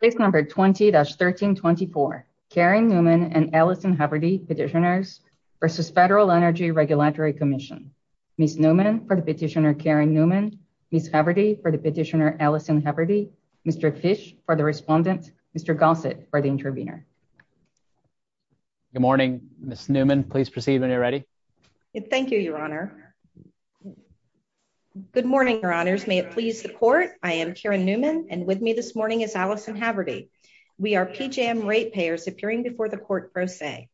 Page number 20-1324, Keryn Newman and Allison Heberty, Petitioners v. Federal Energy Regulatory Commission. Ms. Newman for the Petitioner Keryn Newman, Ms. Heberty for the Petitioner Allison Heberty, Mr. Tisch for the Respondent, Mr. Gossett for the Intervener. Good morning, Ms. Newman. Please proceed when you're ready. Thank you, Your Honor. Good morning, Your Honors. May it please the Court, I am Keryn Newman, and with me this morning is Allison Heberty. We are PJM ratepayers appearing before the Court first day.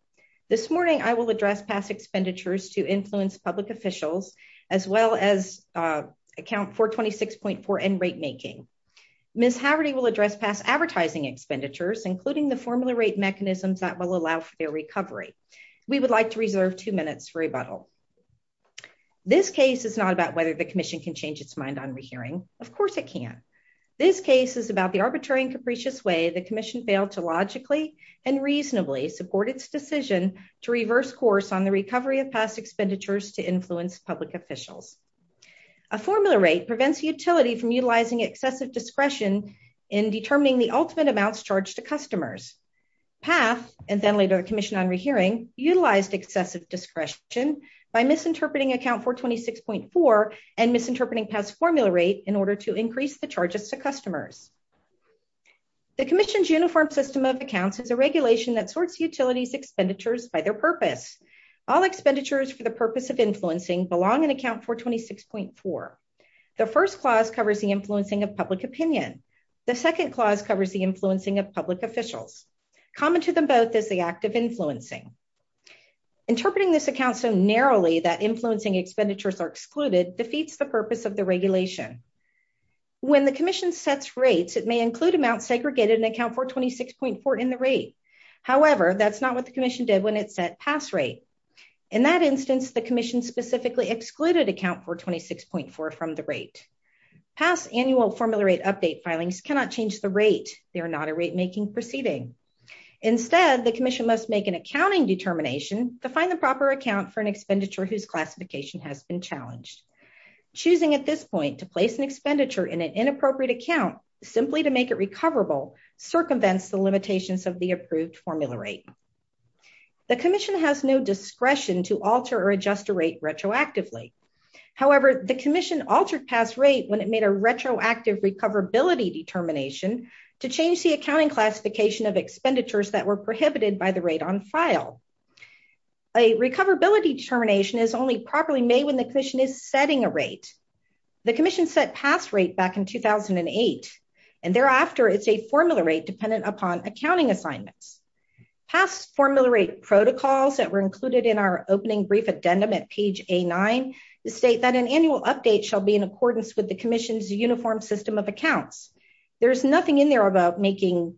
This morning, I will address past expenditures to influence public officials, as well as Account 426.4 and rate making. Ms. Heberty will address past advertising expenditures, including the formula rate mechanisms that will allow for their recovery. This case is not about whether the Commission can change its mind on rehearing. Of course it can. This case is about the arbitrary and capricious way the Commission failed to logically and reasonably support its decision to reverse course on the recovery of past expenditures to influence public officials. A formula rate prevents the utility from utilizing excessive discretion in determining the ultimate amounts charged to customers. Past, and then later Commission on Rehearing, utilized excessive discretion by misinterpreting Account 426.4 and misinterpreting past formula rate in order to increase the charges to customers. The Commission's uniform system of accounts is a regulation that sorts utilities expenditures by their purpose. All expenditures for the purpose of influencing belong in Account 426.4. The first clause covers the influencing of public opinion. The second clause covers the influencing of public officials. Common to them both is the act of influencing. Interpreting this account so narrowly that influencing expenditures are excluded defeats the purpose of the regulation. When the Commission sets rates, it may include amounts segregated in Account 426.4 in the rate. However, that's not what the Commission did when it set past rates. In that instance, the Commission specifically excluded Account 426.4 from the rate. Past annual formula rate update filings cannot change the rate. They are not a rate making proceeding. Instead, the Commission must make an accounting determination to find the proper account for an expenditure whose classification has been challenged. Choosing at this point to place an expenditure in an inappropriate account simply to make it recoverable circumvents the limitations of the approved formula rate. The Commission has no discretion to alter or adjust the rate retroactively. However, the Commission altered past rate when it made a retroactive recoverability determination to change the accounting classification of expenditures that were prohibited by the rate on file. A recoverability determination is only properly made when the Commission is setting a rate. The Commission set past rate back in 2008, and thereafter it's a formula rate dependent upon accounting assignments. Past formula rate protocols that were included in our opening brief addendum at page A9 state that an annual update shall be in accordance with the Commission's uniform system of accounts. There's nothing in there about making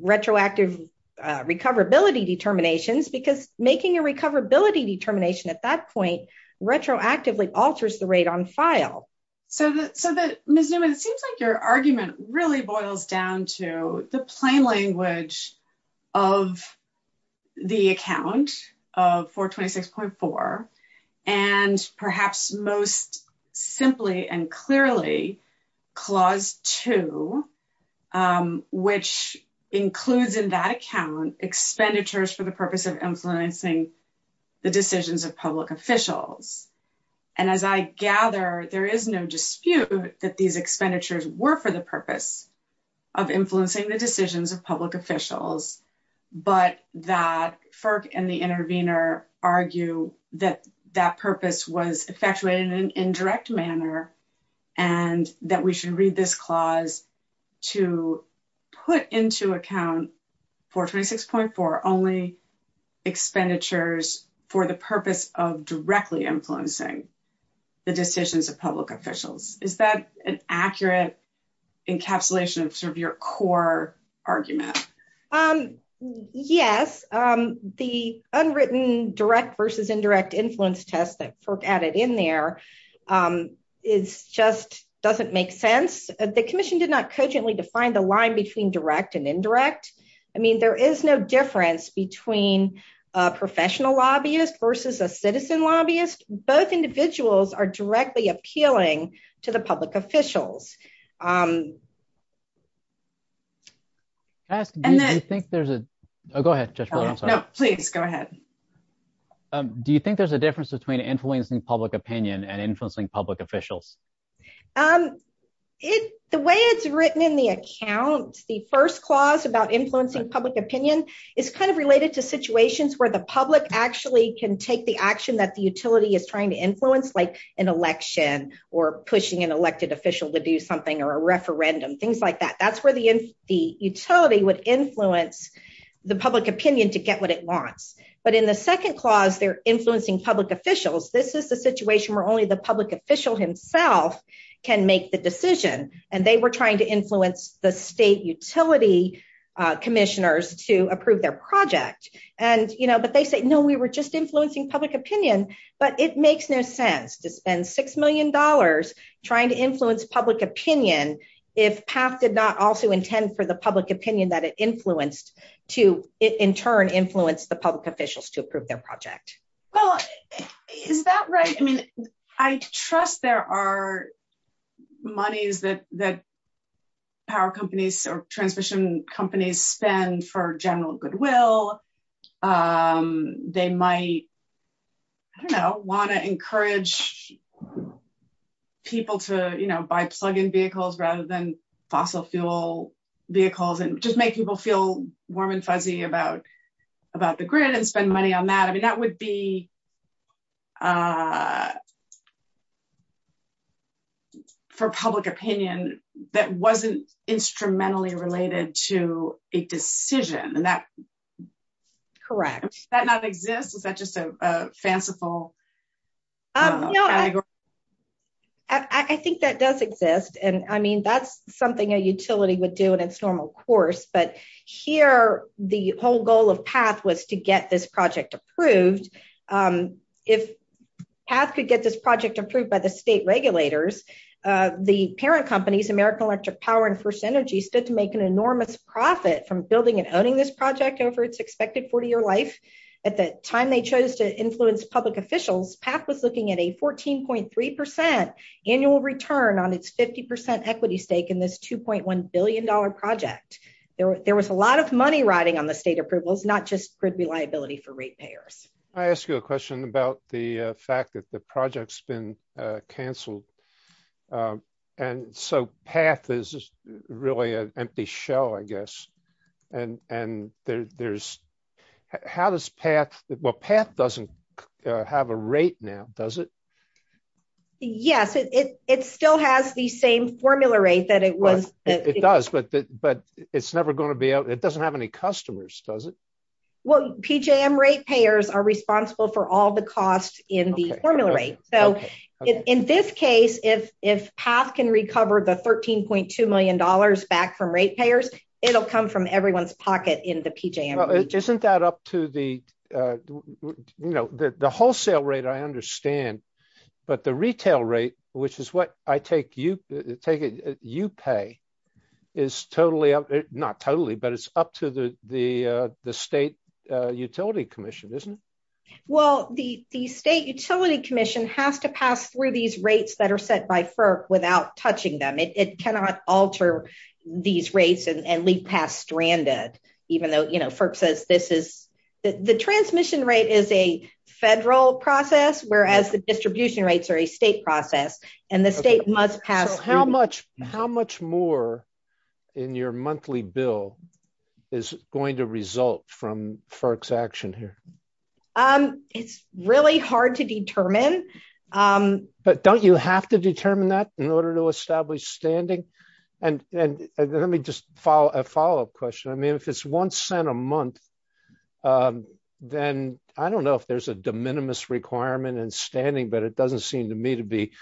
retroactive recoverability determinations because making a recoverability determination at that point retroactively alters the rate on file. So, Ms. Newman, it seems like your argument really boils down to the plain language of the account of 426.4 and perhaps most simply and clearly Clause 2, which includes in that account expenditures for the purpose of influencing the decisions of public officials. And as I gather, there is no dispute that these expenditures were for the purpose of influencing the decisions of public officials, but that FERC and the intervener argue that that purpose was effectuated in an indirect manner and that we should read this clause to put into account 426.4 only expenditures for the purpose of directly influencing the decisions of public officials. Is that an accurate encapsulation of sort of your core argument? Yes, the unwritten direct versus indirect influence test that FERC added in there just doesn't make sense. The Commission did not cogently define the line between direct and indirect. I mean, there is no difference between a professional lobbyist versus a citizen lobbyist. Both individuals are directly appealing to the public officials. Do you think there's a difference between influencing public opinion and influencing public officials? The way it's written in the account, the first clause about influencing public opinion is kind of related to situations where the public actually can take the action that the utility is trying to influence, like an election or pushing an elected official to do something or a referendum, things like that. That's where the utility would influence the public opinion to get what it wants. But in the second clause, they're influencing public officials. This is the situation where only the public official himself can make the decision, and they were trying to influence the state utility commissioners to approve their project. But they say, no, we were just influencing public opinion, but it makes no sense. And $6 million trying to influence public opinion if PAF did not also intend for the public opinion that it influenced to, in turn, influence the public officials to approve their project. Well, is that right? I mean, I trust there are monies that power companies or transition companies spend for general goodwill. They might want to encourage people to buy plug-in vehicles rather than fossil fuel vehicles and just make people feel warm and fuzzy about the grid and spend money on that. I mean, that would be, for public opinion, that wasn't instrumentally related to a decision. Correct. Does that not exist? Is that just a fanciful allegory? I think that does exist. And I mean, that's something a utility would do in its normal course. But here, the whole goal of PAF was to get this project approved. If PAF could get this project approved by the state regulators, the parent companies, American Electric Power and First Energy, said to make an enormous profit from building and owning this project over its expected 40-year life. At the time they chose to influence public officials, PAF was looking at a 14.3% annual return on its 50% equity stake in this $2.1 billion project. There was a lot of money riding on the state approvals, not just liability for ratepayers. Can I ask you a question about the fact that the project's been canceled? And so, PAF is really an empty shell, I guess. And there's – how does PAF – well, PAF doesn't have a rate now, does it? Yes, it still has the same formula rate that it was – It does, but it's never going to be – it doesn't have any customers, does it? Well, PJM ratepayers are responsible for all the costs in the formula rate. So, in this case, if PAF can recover the $13.2 million back from ratepayers, it'll come from everyone's pocket in the PJM rate. Well, isn't that up to the – you know, the wholesale rate, I understand, but the retail rate, which is what I take – you pay, is totally – not totally, but it's up to the state utility commission, isn't it? Well, the state utility commission has to pass through these rates that are set by FERC without touching them. It cannot alter these rates and leave PAF stranded, even though, you know, FERC says this is – the transmission rate is a federal process, whereas the distribution rates are a state process, and the state must pass through – How much more in your monthly bill is going to result from FERC's action here? It's really hard to determine. But don't you have to determine that in order to establish standing? And let me just – a follow-up question. I mean, if it's $0.01 a month, then I don't know if there's a de minimis requirement in standing, but it doesn't seem to me to be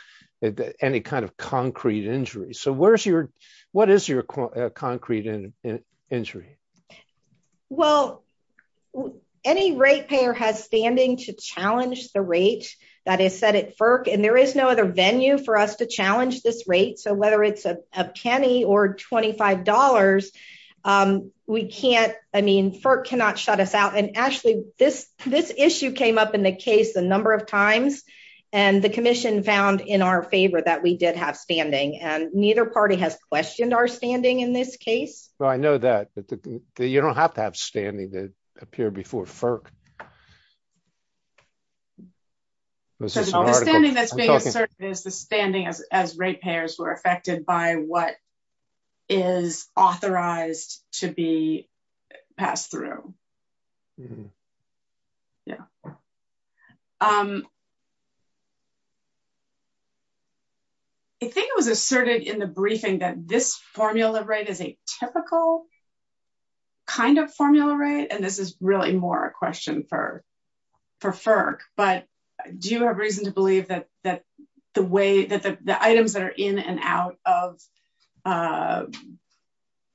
any kind of concrete injury. So, where's your – what is your concrete injury? Well, any ratepayer has standing to challenge the rate that is set at FERC, and there is no other venue for us to challenge this rate. So, whether it's a penny or $25, we can't – I mean, FERC cannot shut us out. And, Ashley, this issue came up in the case a number of times, and the commission found in our favor that we did have standing, and neither party has questioned our standing in this case. Well, I know that, but you don't have to have standing to appear before FERC. So, the only standing that's being asserted is the standing as ratepayers who are affected by what is authorized to be passed through. I think it was asserted in the briefing that this formula rate is a typical kind of formula rate, and this is really more a question for FERC. But do you have reason to believe that the way – that the items that are in and out of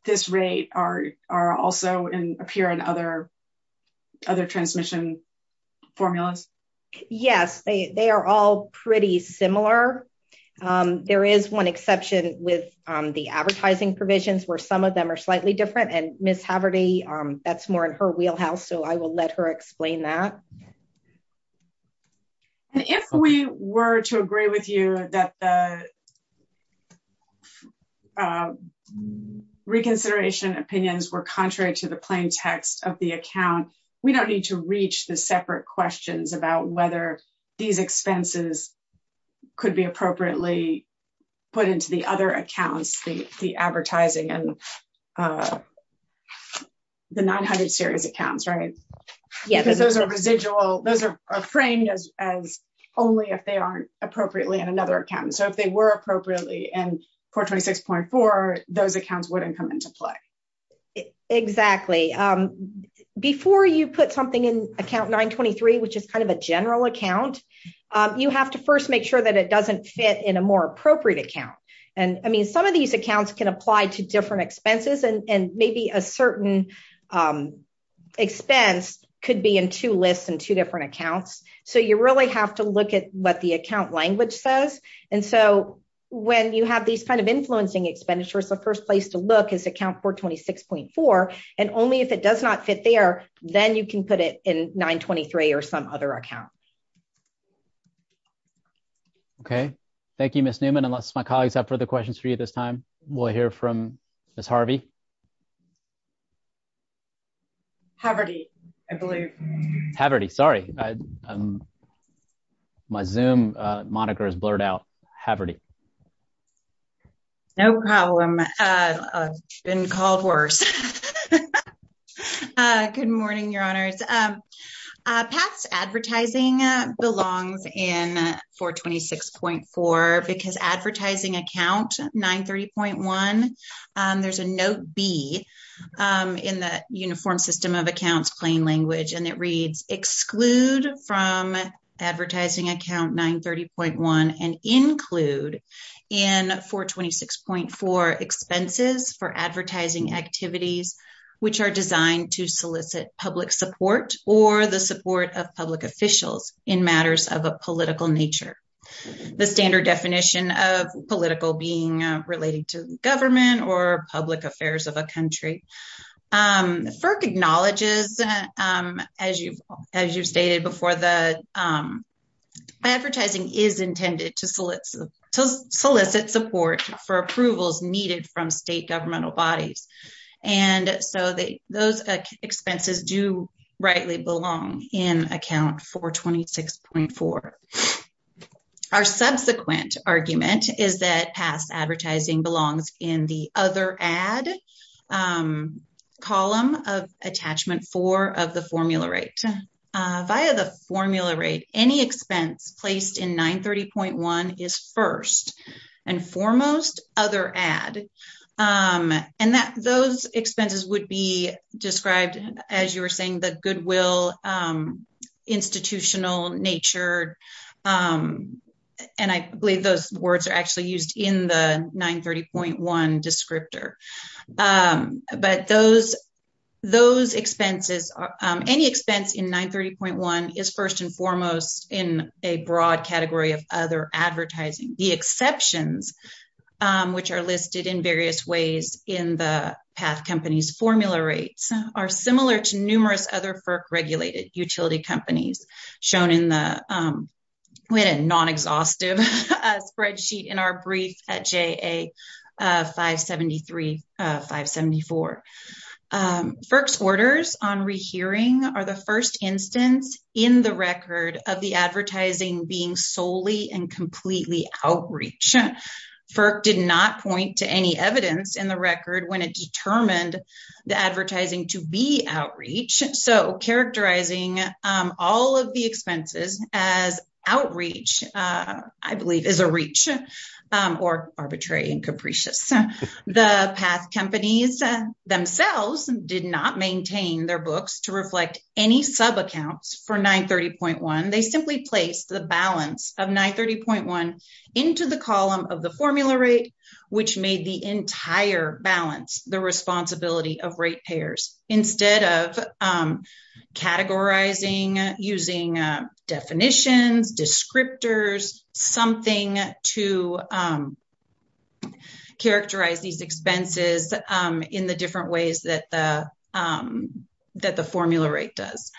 this rate are also in – appear in other – other transmission formulas? Yes. They are all pretty similar. There is one exception with the advertising provisions, where some of them are slightly different, and Ms. Haverty, that's more in her wheelhouse, so I will let her explain that. If we were to agree with you that the reconsideration opinions were contrary to the plain text of the account, we don't need to reach the separate questions about whether these expenses could be appropriately put into the other accounts, the advertising and the 900-series accounts, right? Yes. Because those are residual – those are framed as only if they aren't appropriately in another account. So, if they were appropriately in 426.4, those accounts wouldn't come into play. Exactly. Before you put something in account 923, which is kind of a general account, you have to first make sure that it doesn't fit in a more appropriate account. And, I mean, some of these accounts can apply to different expenses, and maybe a certain expense could be in two lists in two different accounts. So, you really have to look at what the account language says. And so, when you have these kind of influencing expenditures, the first place to look is account 426.4, and only if it does not fit there, then you can put it in 923 or some other account. Okay. Thank you, Ms. Newman. Unless my colleagues have further questions for you at this time, we'll hear from Ms. Harvey. Harvardy, I believe. Harvardy, sorry. My Zoom moniker is blurred out. Harvardy. No problem. I've been called worse. Good morning, Your Honors. Past advertising belongs in 426.4 because advertising account 930.1, there's a note B in the Uniform System of Accounts plain language, and it reads, Exclude from advertising account 930.1 and include in 426.4 expenses for advertising activities which are designed to solicit public support or the support of public officials in matters of a political nature. The standard definition of political being related to government or public affairs of a country. FERC acknowledges, as you stated before, that advertising is intended to solicit support for approvals needed from state governmental bodies, and so those expenses do rightly belong in account 426.4. Our subsequent argument is that past advertising belongs in the other ad column of attachment 4 of the formula rate. Via the formula rate, any expense placed in 930.1 is first and foremost other ad, and those expenses would be described as you were saying, the goodwill, institutional nature, and I believe those words are actually used in the 930.1 descriptor. But those expenses, any expense in 930.1 is first and foremost in a broad category of other advertising. The exceptions, which are listed in various ways in the past companies formula rates, are similar to numerous other FERC regulated utility companies shown in the non-exhaustive spreadsheet in our brief at JA573-574. FERC's orders on rehearing are the first instance in the record of the advertising being solely and completely outreach. FERC did not point to any evidence in the record when it determined the advertising to be outreach, so characterizing all of the expenses as outreach, I believe, is a reach or arbitrary and capricious. The past companies themselves did not maintain their books to reflect any sub-accounts for 930.1. They simply placed the balance of 930.1 into the column of the formula rate, which made the entire balance the responsibility of rate payers. So, they did this instead of categorizing using definitions, descriptors, something to characterize these expenses in the different ways that the formula rate does.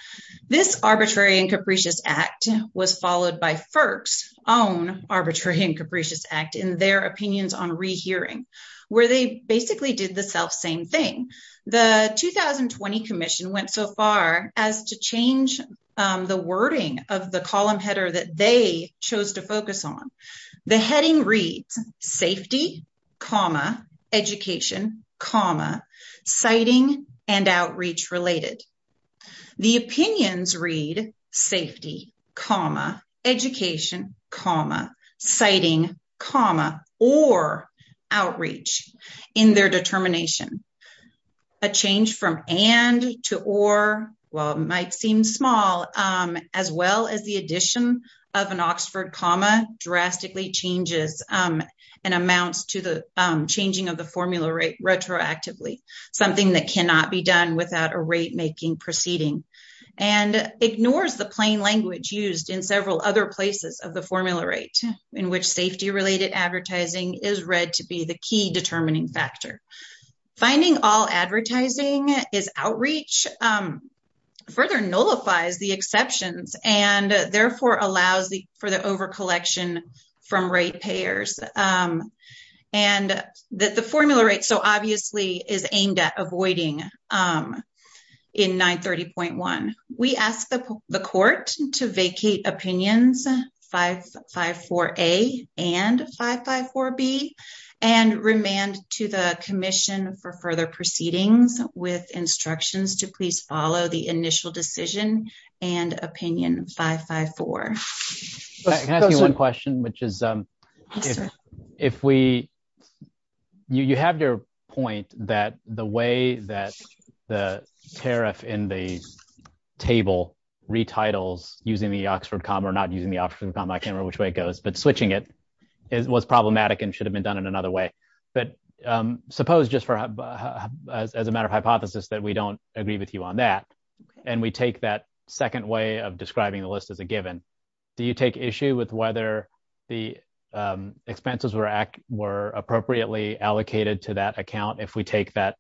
This arbitrary and capricious act was followed by FERC's own arbitrary and capricious act in their opinions on rehearing, where they basically did the selfsame thing. The 2020 commission went so far as to change the wording of the column header that they chose to focus on. The heading reads, safety, education, citing, and outreach related. The opinions read, safety, education, citing, or outreach in their determination. A change from and to or, while it might seem small, as well as the addition of an Oxford comma drastically changes and amounts to the changing of the formula rate retroactively. Something that cannot be done without a rate making proceeding and ignores the plain language used in several other places of the formula rate, in which safety related advertising is read to be the key determining factor. Finding all advertising is outreach further nullifies the exceptions and therefore allows for the over collection from rate payers. The formula rate obviously is aimed at avoiding in 930.1. We ask the court to vacate opinions 554A and 554B and remand to the commission for further proceedings with instructions to please follow the initial decision and opinion 554. I have one question, which is, if we, you have your point that the way that the tariff in the table retitles using the Oxford comma or not using the Oxford comma, I can't remember which way it goes, but switching it was problematic and should have been done in another way. But suppose just as a matter of hypothesis that we don't agree with you on that. And we take that second way of describing the list of the given. Do you take issue with whether the expenses were appropriately allocated to that account if we take that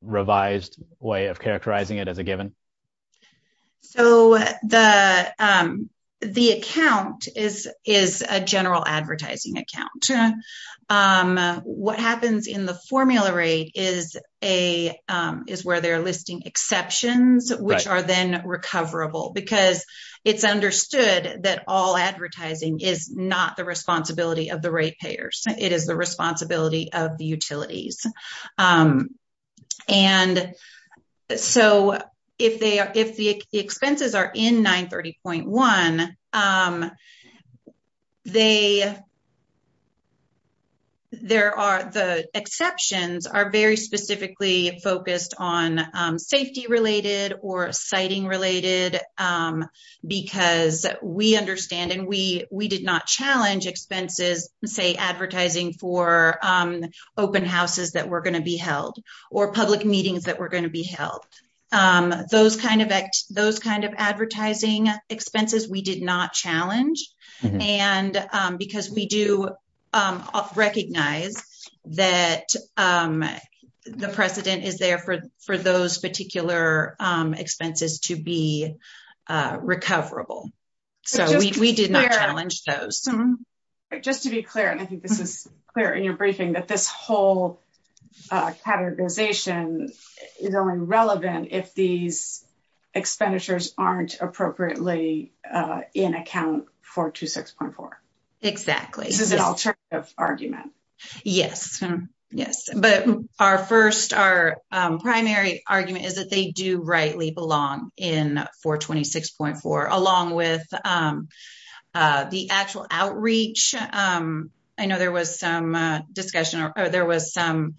revised way of characterizing it as a given? So, the, the account is, is a general advertising account. What happens in the formula rate is a is where they're listing exceptions, which are then recoverable because it's understood that all advertising is not the responsibility of the rate payers. It is the responsibility of the utilities. And so, if they are, if the expenses are in 930.1, they. There are the exceptions are very specifically focused on safety related or citing related because we understand and we, we did not challenge expenses, say, advertising for open houses that we're going to be held or public meetings that we're going to be held. Those kind of those kind of advertising expenses we did not challenge and because we do recognize that the precedent is there for for those particular expenses to be recoverable. So, we did not challenge those just to be clear, and I think this is clear in your briefing that this whole categorization is only relevant if these expenditures aren't appropriately in account for 2, 6.4. Exactly argument. Yes. Yes. But our 1st, our primary argument is that they do rightly belong in 426.4 along with the actual outreach. I know there was some discussion or there was some,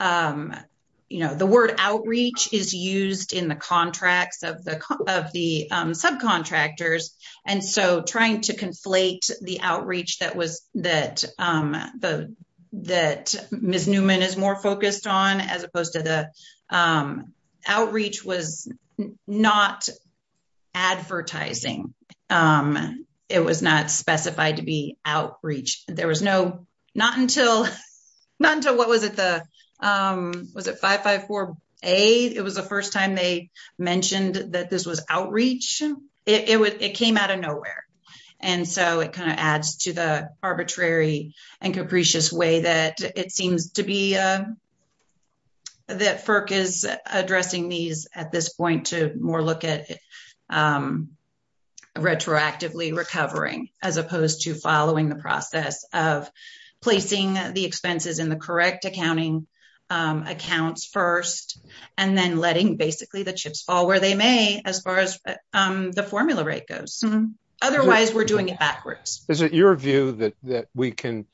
you know, the word outreach is used in the contracts of the, of the subcontractors and so trying to conflate the outreach. That was that the, that Miss Newman is more focused on as opposed to the outreach was not. Advertising, it was not specified to be outreach. There was no, not until not until what was it? The was it? 5, 5, 4, 8, it was the 1st time they mentioned that this was outreach. It was, it came out of nowhere. And so it kind of adds to the arbitrary and capricious way that it seems to be. Okay. Thank you. Thank you. Okay. Placing the expenses in the correct accounting accounts 1st, and then letting basically the chips fall where they may as far as the formula rate goes. Otherwise, we're doing it backwards. Is it your view that that we can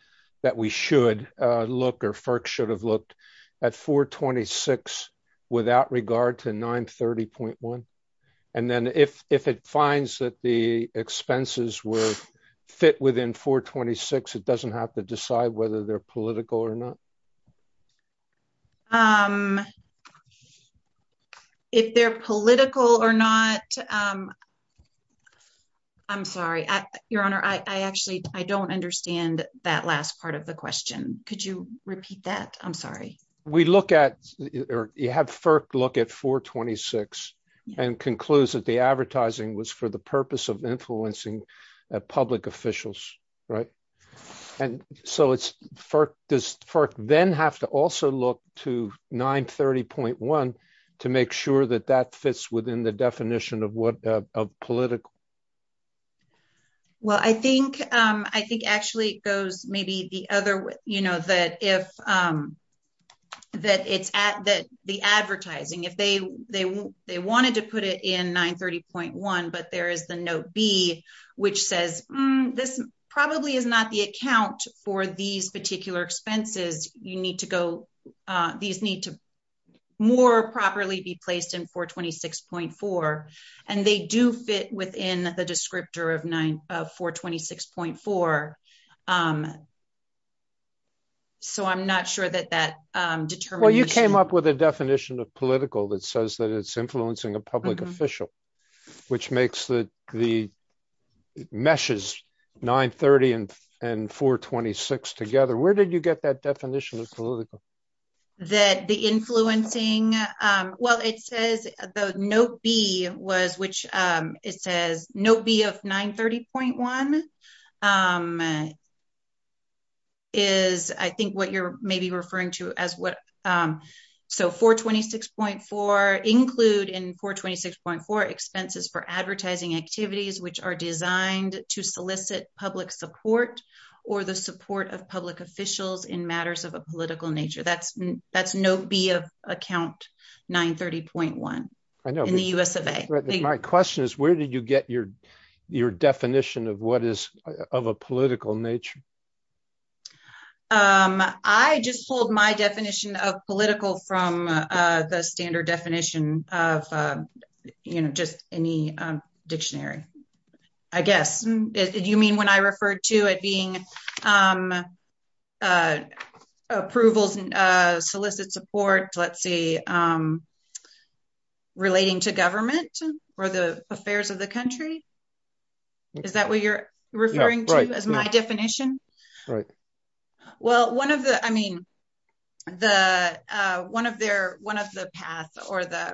that we should look or should have looked at 426 without regard to 930.1. And then if, if it finds that the expenses were fit within 426, it doesn't have to decide whether they're political or not. If they're political or not. I'm sorry. Your Honor, I actually, I don't understand that last part of the question. Could you repeat that. I'm sorry. We look at, or you have FERC look at 426 and concludes that the advertising was for the purpose of influencing public officials. Right. And so it's FERC, does FERC then have to also look to 930.1 to make sure that that fits within the definition of what a political. Well, I think, I think actually those, maybe the other, you know, that if that is at the advertising, if they, they, they wanted to put it in 930.1, but there is the note B, which says, this probably is not the account for these particular expenses. You need to go, these need to more properly be placed in 426.4 and they do fit within the descriptor of 9, of 426.4. So, I'm not sure that that determines. Well, you came up with a definition of political that says that it's influencing a public official, which makes the meshes 930 and 426 together. Where did you get that definition of political? That the influencing, well, it says the note B was, which it says note B of 930.1 is, I think what you're maybe referring to as what. So, 426.4 include in 426.4 expenses for advertising activities, which are designed to solicit public support or the support of public officials in matters of a political nature. That's, that's note B of account 930.1 in the US of A. My question is, where did you get your, your definition of what is, of a political nature? I just pulled my definition of political from the standard definition of, you know, just any dictionary. I guess you mean when I referred to it being. Approvals solicit support, let's see. Relating to government or the affairs of the country. Is that what you're referring to as my definition? Well, 1 of the, I mean, the 1 of their 1 of the past, or the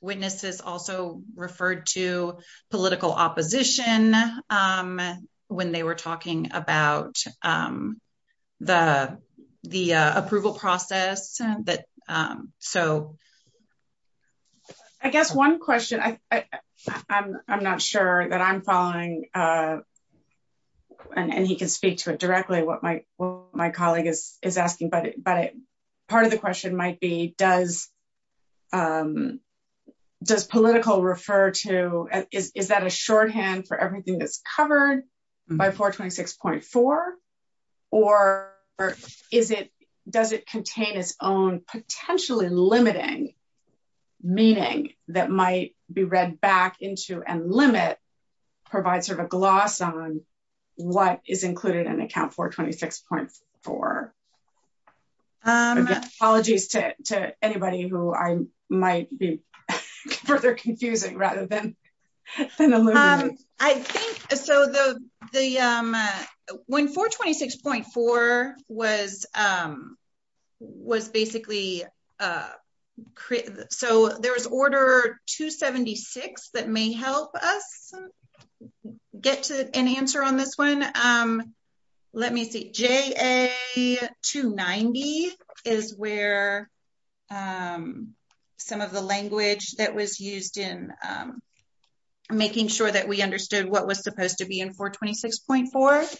witnesses also referred to political opposition when they were talking about. The, the approval process, but so. I guess 1 question I, I'm, I'm not sure that I'm following. And he can speak to it directly. What my, my colleague is is asking, but, but part of the question might be does. Does political refer to, is that a shorthand for everything that's covered by 426.4? Or is it does it contain its own potentially limiting. Meaning that might be read back into and limit. Provide sort of a gloss on what is included in account for 26.4. Apologies to anybody who I might be further confusing rather than. I think so, though, the 1, 426.4 was. Was basically so there was order to 76 that may help us. Get to an answer on this 1. Let me see is where. Some of the language that was used in. Making sure that we understood what was supposed to be in 426.4.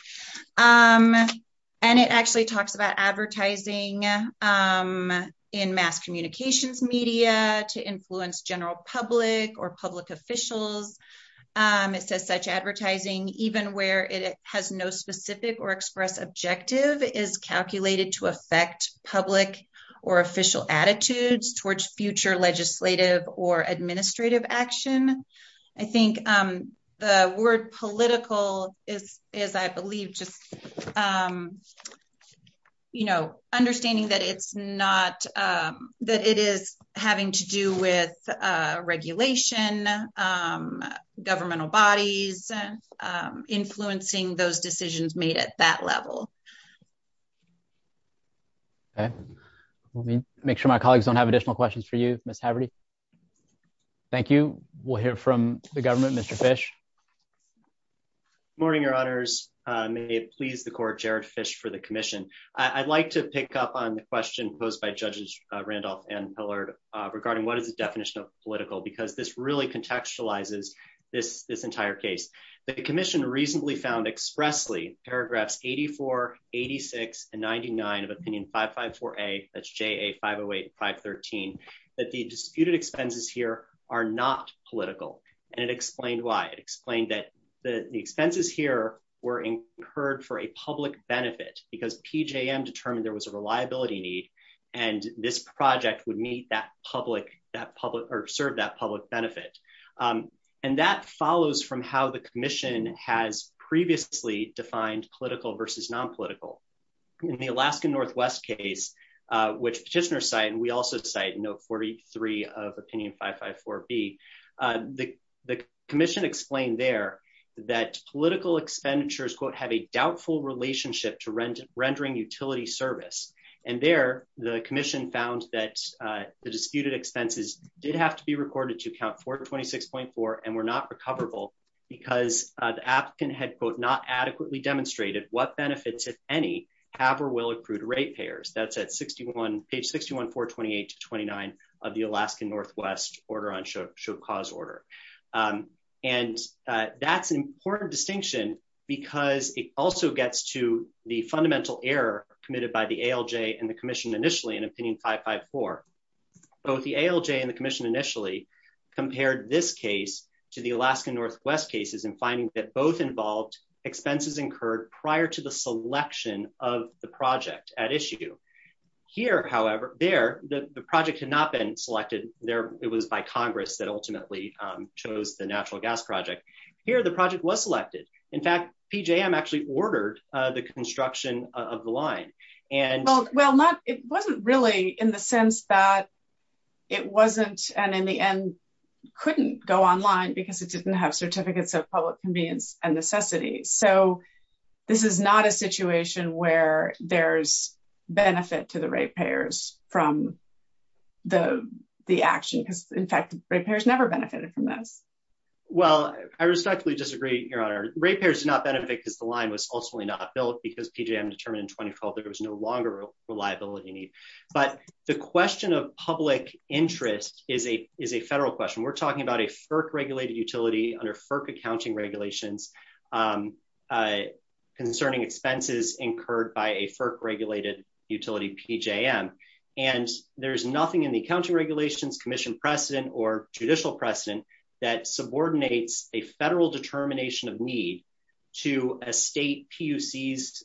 And it actually talks about advertising in mass communications media to influence general public or public officials. It says such advertising, even where it has no specific or express objective is calculated to affect public or official attitudes towards future legislative or administrative action. I think the word political is, is, I believe, just. Understanding that it's not that it is having to do with regulation, governmental bodies, influencing those decisions made at that level. Okay, let me make sure my colleagues don't have additional questions for you. Thank you. We'll hear from the government. Mr. I'd like to pick up on the question posed by judges Randolph and Pillar regarding what is the definition of political? Because this really contextualizes this entire case. The commission reasonably found expressly paragraphs, 84, 86 and 99 of opinion. That's 5, 0, 8, 5, 13, that the disputed expenses here are not political. And it explained why it explained that the expenses here were incurred for a public benefit because determine there was a reliability need. And this project would meet that public that public or serve that public benefit. And that follows from how the commission has previously defined political versus non political. In the Alaskan Northwest case, which Chisner site, and we also say, no, 43 of opinion, 5, 5, 4, B. The commission explained there that political expenditures, quote, have a doubtful relationship to rent, rendering utility service. And there, the commission found that the disputed expenses did have to be recorded to account for 26.4 and we're not recoverable because the African head, quote, not adequately demonstrated what benefit to any have or will accrue to rate payers. That's at 61, page 61, 428 to 29 of the Alaskan Northwest order on show cause order. And that's an important distinction because it also gets to the fundamental error committed by the ALJ and the commission initially in opinion, 5, 5, 4. Both the ALJ and the commission initially compared this case to the Alaskan Northwest cases and finding that both involved expenses incurred prior to the selection of the project at issue. Here, however, there, the project had not been selected there. It was by Congress that ultimately chose the natural gas project. Here, the project was selected. In fact, PJM actually ordered the construction of the line and Well, it wasn't really in the sense that it wasn't. And in the end, couldn't go online because it didn't have certificates of public convenience and necessity. So this is not a situation where there's benefit to the rate payers from the action. In fact, rate payers never benefited from that. Well, I respectfully disagree, Your Honor. Rate payers did not benefit because the line was ultimately not built because PJM determined in 2012 there was no longer reliability need. But the question of public interest is a federal question. We're talking about a FERC regulated utility under FERC accounting regulations concerning expenses incurred by a FERC regulated utility PJM. And there's nothing in the accounting regulations commission precedent or judicial precedent that subordinates a federal determination of need to a state PUC's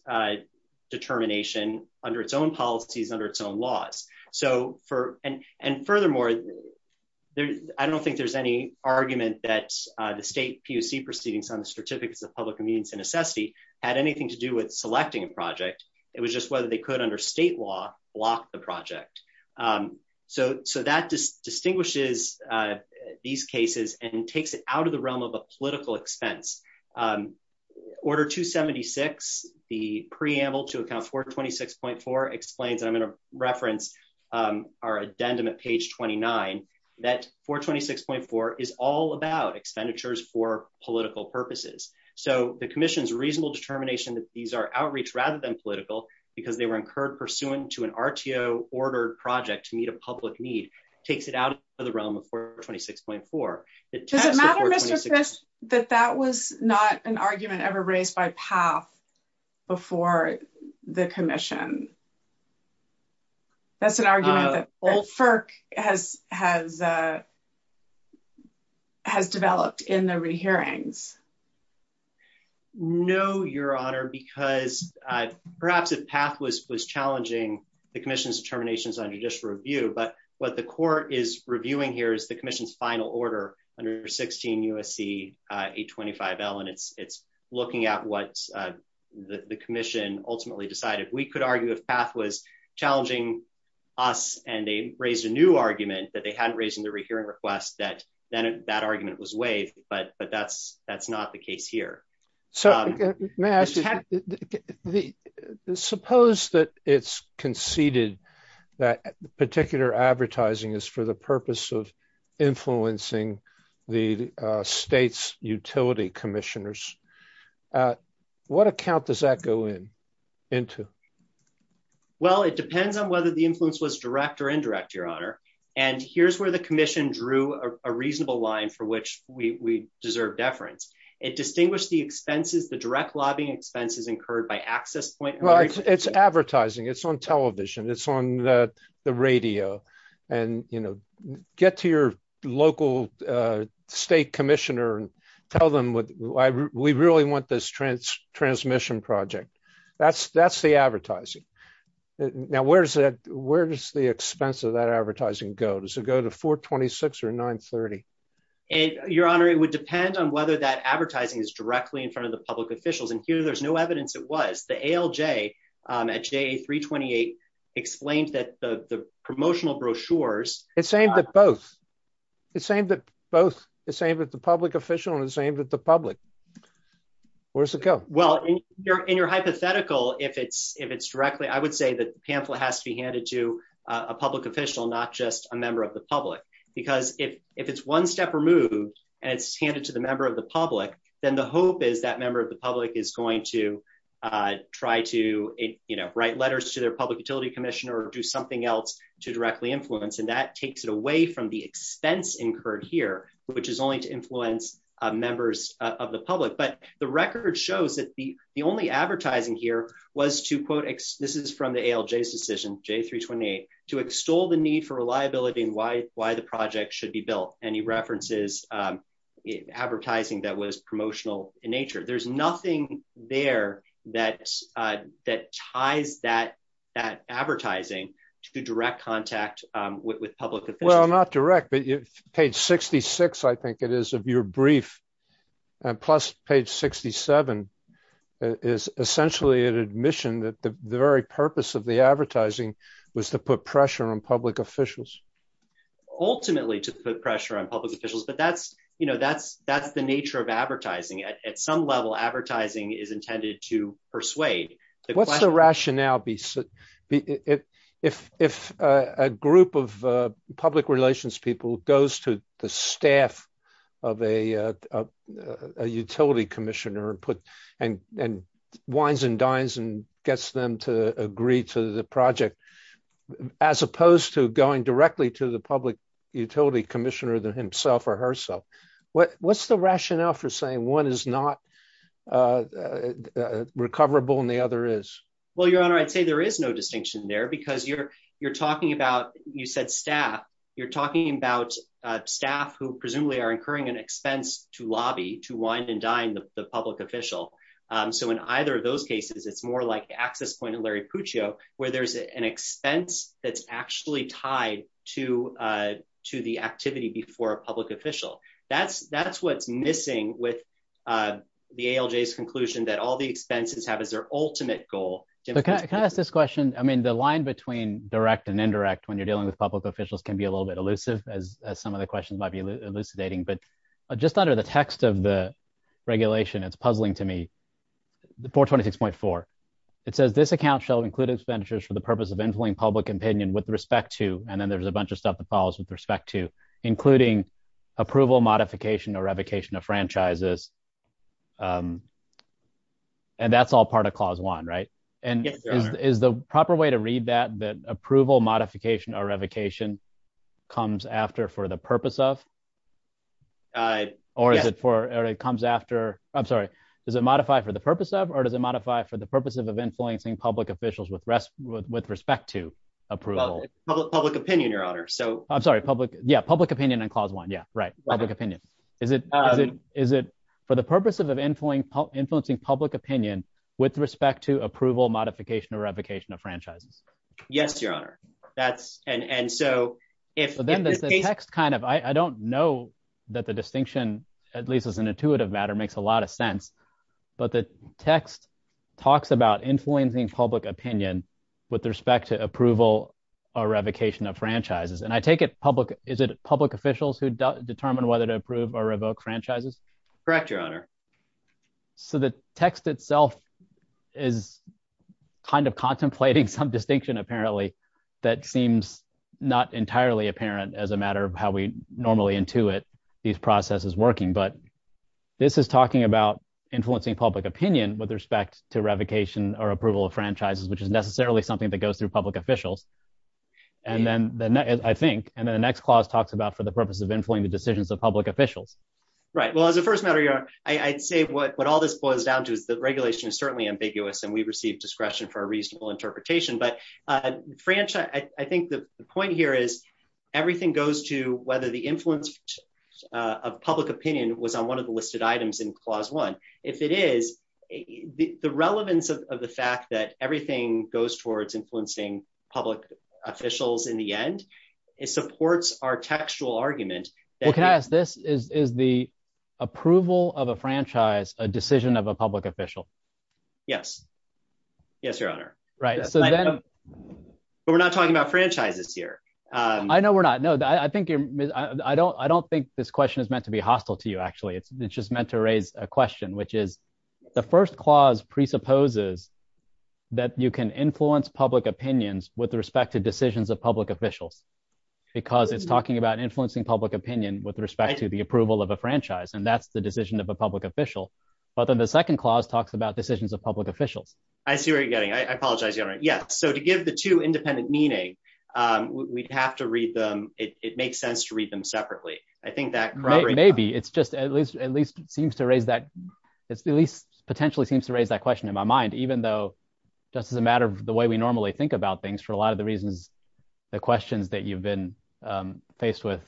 determination under its own policies, under its own laws. And furthermore, I don't think there's any argument that the state PUC proceedings on the certificates of public convenience and necessity had anything to do with selecting a project. It was just whether they could, under state law, block the project. So that just distinguishes these cases and takes it out of the realm of a political expense. Order 276, the preamble to account 426.4 explains, I'm going to reference our addendum at page 29, that 426.4 is all about expenditures for political purposes. So the commission's reasonable determination that these are outreach rather than political because they were incurred pursuant to an RTO ordered project to meet a public need takes it out of the realm of 426.4. Does it matter, Mr. Fish, that that was not an argument ever raised by PATH before the commission? That's an argument that FERC has developed in the re-hearings. No, Your Honor, because perhaps if PATH was challenging the commission's determinations under judicial review, but what the court is reviewing here is the commission's final order under 16 U.S.C. 825L. And it's looking at what the commission ultimately decided. We could argue if PATH was challenging us and they raised a new argument that they hadn't raised in the re-hearing request that then that argument was waived, but that's not the case here. Suppose that it's conceded that particular advertising is for the purpose of influencing the state's utility commissioners. What account does that go into? Well, it depends on whether the influence was direct or indirect, Your Honor. And here's where the commission drew a reasonable line for which we deserve deference. It distinguished the direct lobbying expenses incurred by access point. Well, it's advertising. It's on television. It's on the radio. And, you know, get to your local state commissioner and tell them we really want this transmission project. That's the advertising. Now, where does the expense of that advertising go? Does it go to 426 or 930? Your Honor, it would depend on whether that advertising is directly in front of the public officials. And here, there's no evidence it was. The ALJ at J328 explains that the promotional brochures... It's aimed at both. It's aimed at both. It's aimed at the public official and it's aimed at the public. Where does it go? Well, in your hypothetical, if it's directly, I would say that the pamphlet has to be handed to a public official, not just a member of the public. Because if it's one step removed and it's handed to the member of the public, then the hope is that member of the public is going to try to write letters to their public utility commissioner or do something else to directly influence. And that takes it away from the expense incurred here, which is only to influence members of the public. But the record shows that the only advertising here was to, quote, this is from the ALJ's decision, J328, to extol the need for reliability and why the project should be built. And he references advertising that was promotional in nature. There's nothing there that ties that advertising to direct contact with public officials. Well, not direct, but page 66, I think it is, of your brief, plus page 67, is essentially an admission that the very purpose of the advertising was to put pressure on public officials. Ultimately, to put pressure on public officials, but that's the nature of advertising. At some level, advertising is intended to persuade. What's the rationale if a group of public relations people goes to the staff of a utility commissioner and wines and dines and gets them to agree to the project, as opposed to going directly to the public utility commissioner himself or herself? What's the rationale for saying one is not recoverable and the other is? Well, Your Honor, I'd say there is no distinction there because you're talking about, you said staff, you're talking about staff who presumably are incurring an expense to lobby, to wine and dine the public official. So in either of those cases, it's more like the access point of Larry Puccio, where there's an expense that's actually tied to the activity before a public official. That's what's missing with the ALJ's conclusion that all the expenses have as their ultimate goal. Can I ask this question? I mean, the line between direct and indirect when you're dealing with public officials can be a little bit elusive, as some of the questions might be elucidating, but just under the text of the regulation, it's puzzling to me. 426.4. It says this account shall include expenditures for the purpose of insulting public opinion with respect to, and then there's a bunch of stuff that follows with respect to, including approval, modification or revocation of franchises. And that's all part of clause one, right? And is the proper way to read that, that approval, modification or revocation comes after for the purpose of? Or is it for, or it comes after, I'm sorry, does it modify for the purpose of, or does it modify for the purpose of influencing public officials with respect to approval? Public opinion, Your Honor. I'm sorry, public, yeah, public opinion in clause one. Yeah, right. Public opinion. Is it for the purpose of influencing public opinion with respect to approval, modification or revocation of franchises? Yes, Your Honor. That's, and so if- The text kind of, I don't know that the distinction, at least as an intuitive matter, makes a lot of sense, but the text talks about influencing public opinion with respect to approval or revocation of franchises. And I take it public, is it public officials who determine whether to approve or revoke franchises? Correct, Your Honor. So the text itself is kind of contemplating some distinction, apparently, that seems not entirely apparent as a matter of how we normally intuit these processes working. But this is talking about influencing public opinion with respect to revocation or approval of franchises, which is necessarily something that goes through public officials. And then, I think, and then the next clause talks about for the purpose of influencing the decisions of public officials. Right. Well, as a first matter, Your Honor, I'd say what all this boils down to is that regulation is certainly ambiguous and we've received discretion for a reasonable interpretation. But, Franchise, I think the point here is everything goes to whether the influence of public opinion was on one of the listed items in clause one. If it is, the relevance of the fact that everything goes towards influencing public officials in the end, it supports our textual argument. Well, can I ask, is the approval of a franchise a decision of a public official? Yes. Yes, Your Honor. Right. But we're not talking about franchises here. I know we're not. I don't think this question is meant to be hostile to you, actually. It's just meant to raise a question, which is the first clause presupposes that you can influence public opinions with respect to decisions of public officials. Because it's talking about influencing public opinion with respect to the approval of a franchise, and that's the decision of a public official. But then the second clause talks about decisions of public officials. I see where you're getting. I apologize, Your Honor. Yes. So to give the two independent meaning, we'd have to read them. It makes sense to read them separately. I think that… Bobby, it's just at least seems to raise that, at least potentially seems to raise that question in my mind, even though just as a matter of the way we normally think about things, for a lot of the reasons, the questions that you've been faced with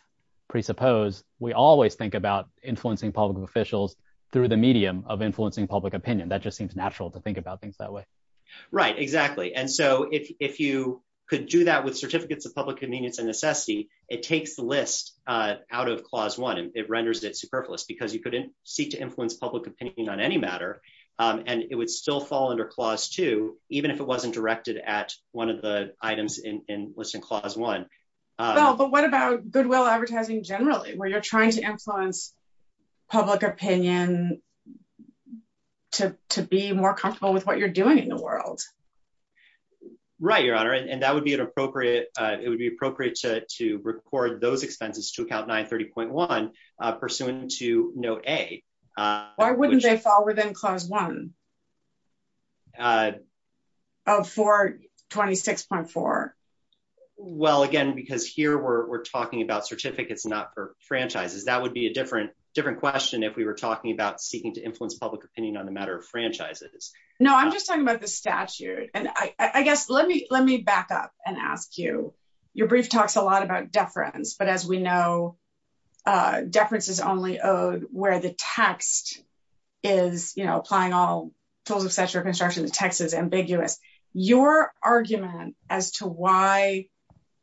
presuppose, we always think about influencing public officials through the medium of influencing public opinion. That just seems natural to think about things that way. Right, exactly. And so if you could do that with certificates of public convenience and necessity, it takes the list out of Clause 1. It renders it superfluous because you couldn't seek to influence public opinion on any matter, and it would still fall under Clause 2, even if it wasn't directed at one of the items in Listing Clause 1. But what about goodwill advertising generally, where you're trying to influence public opinion to be more comfortable with what you're doing in the world? Right, Your Honor, and that would be an appropriate… it would be appropriate to record those expenses to Account 930.1 pursuant to Note A. Why wouldn't they fall within Clause 1 of 426.4? Well, again, because here we're talking about certificates not for franchises. That would be a different question if we were talking about seeking to influence public opinion on a matter of franchises. No, I'm just talking about the statute. And I guess let me back up and ask you. Your brief talks a lot about deference, but as we know, deference is only owed where the text is, you know, applying all tools of such reconstruction, the text is ambiguous. Your argument as to why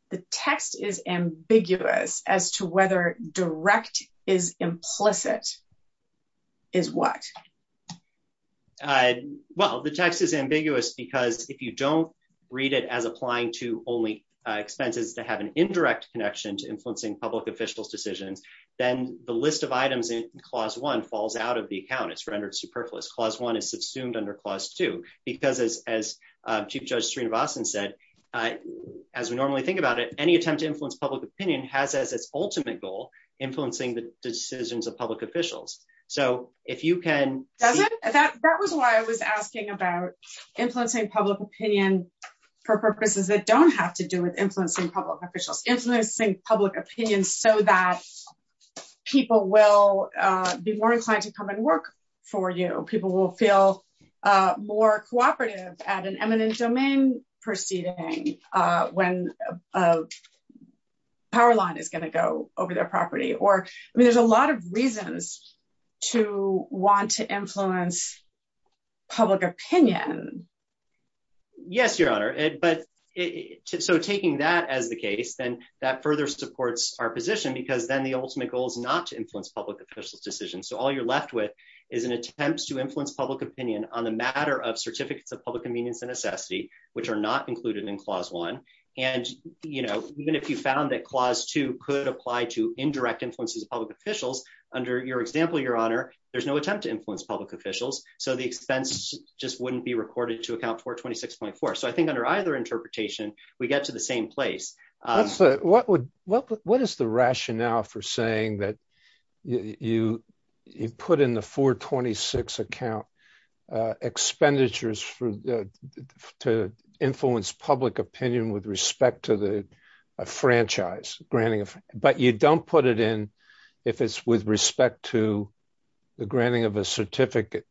the text is ambiguous as to whether direct is implicit is what? Well, the text is ambiguous because if you don't read it as applying to only expenses to have an indirect connection to influencing public officials' decision, then the list of items in Clause 1 falls out of the account. It's rendered superfluous. Clause 1 is subsumed under Clause 2 because, as Chief Judge Serena Boston said, as we normally think about it, any attempt to influence public opinion has as its ultimate goal influencing the decisions of public officials. So if you can… People will be more inclined to come and work for you. People will feel more cooperative at an eminent domain proceeding when a power line is going to go over their property. I mean, there's a lot of reasons to want to influence public opinion. Yes, Your Honor. So taking that as the case, then that further supports our position because then the ultimate goal is not to influence public officials' decisions. So all you're left with is an attempt to influence public opinion on the matter of certificates of public convenience and necessity, which are not included in Clause 1. And, you know, even if you found that Clause 2 could apply to indirect influences of public officials, under your example, Your Honor, there's no attempt to influence public officials. So the expense just wouldn't be recorded to Account 426.4. So I think under either interpretation, we get to the same place. What is the rationale for saying that you put in the 426 account expenditures to influence public opinion with respect to the franchise granting? But you don't put it in if it's with respect to the granting of a certificate.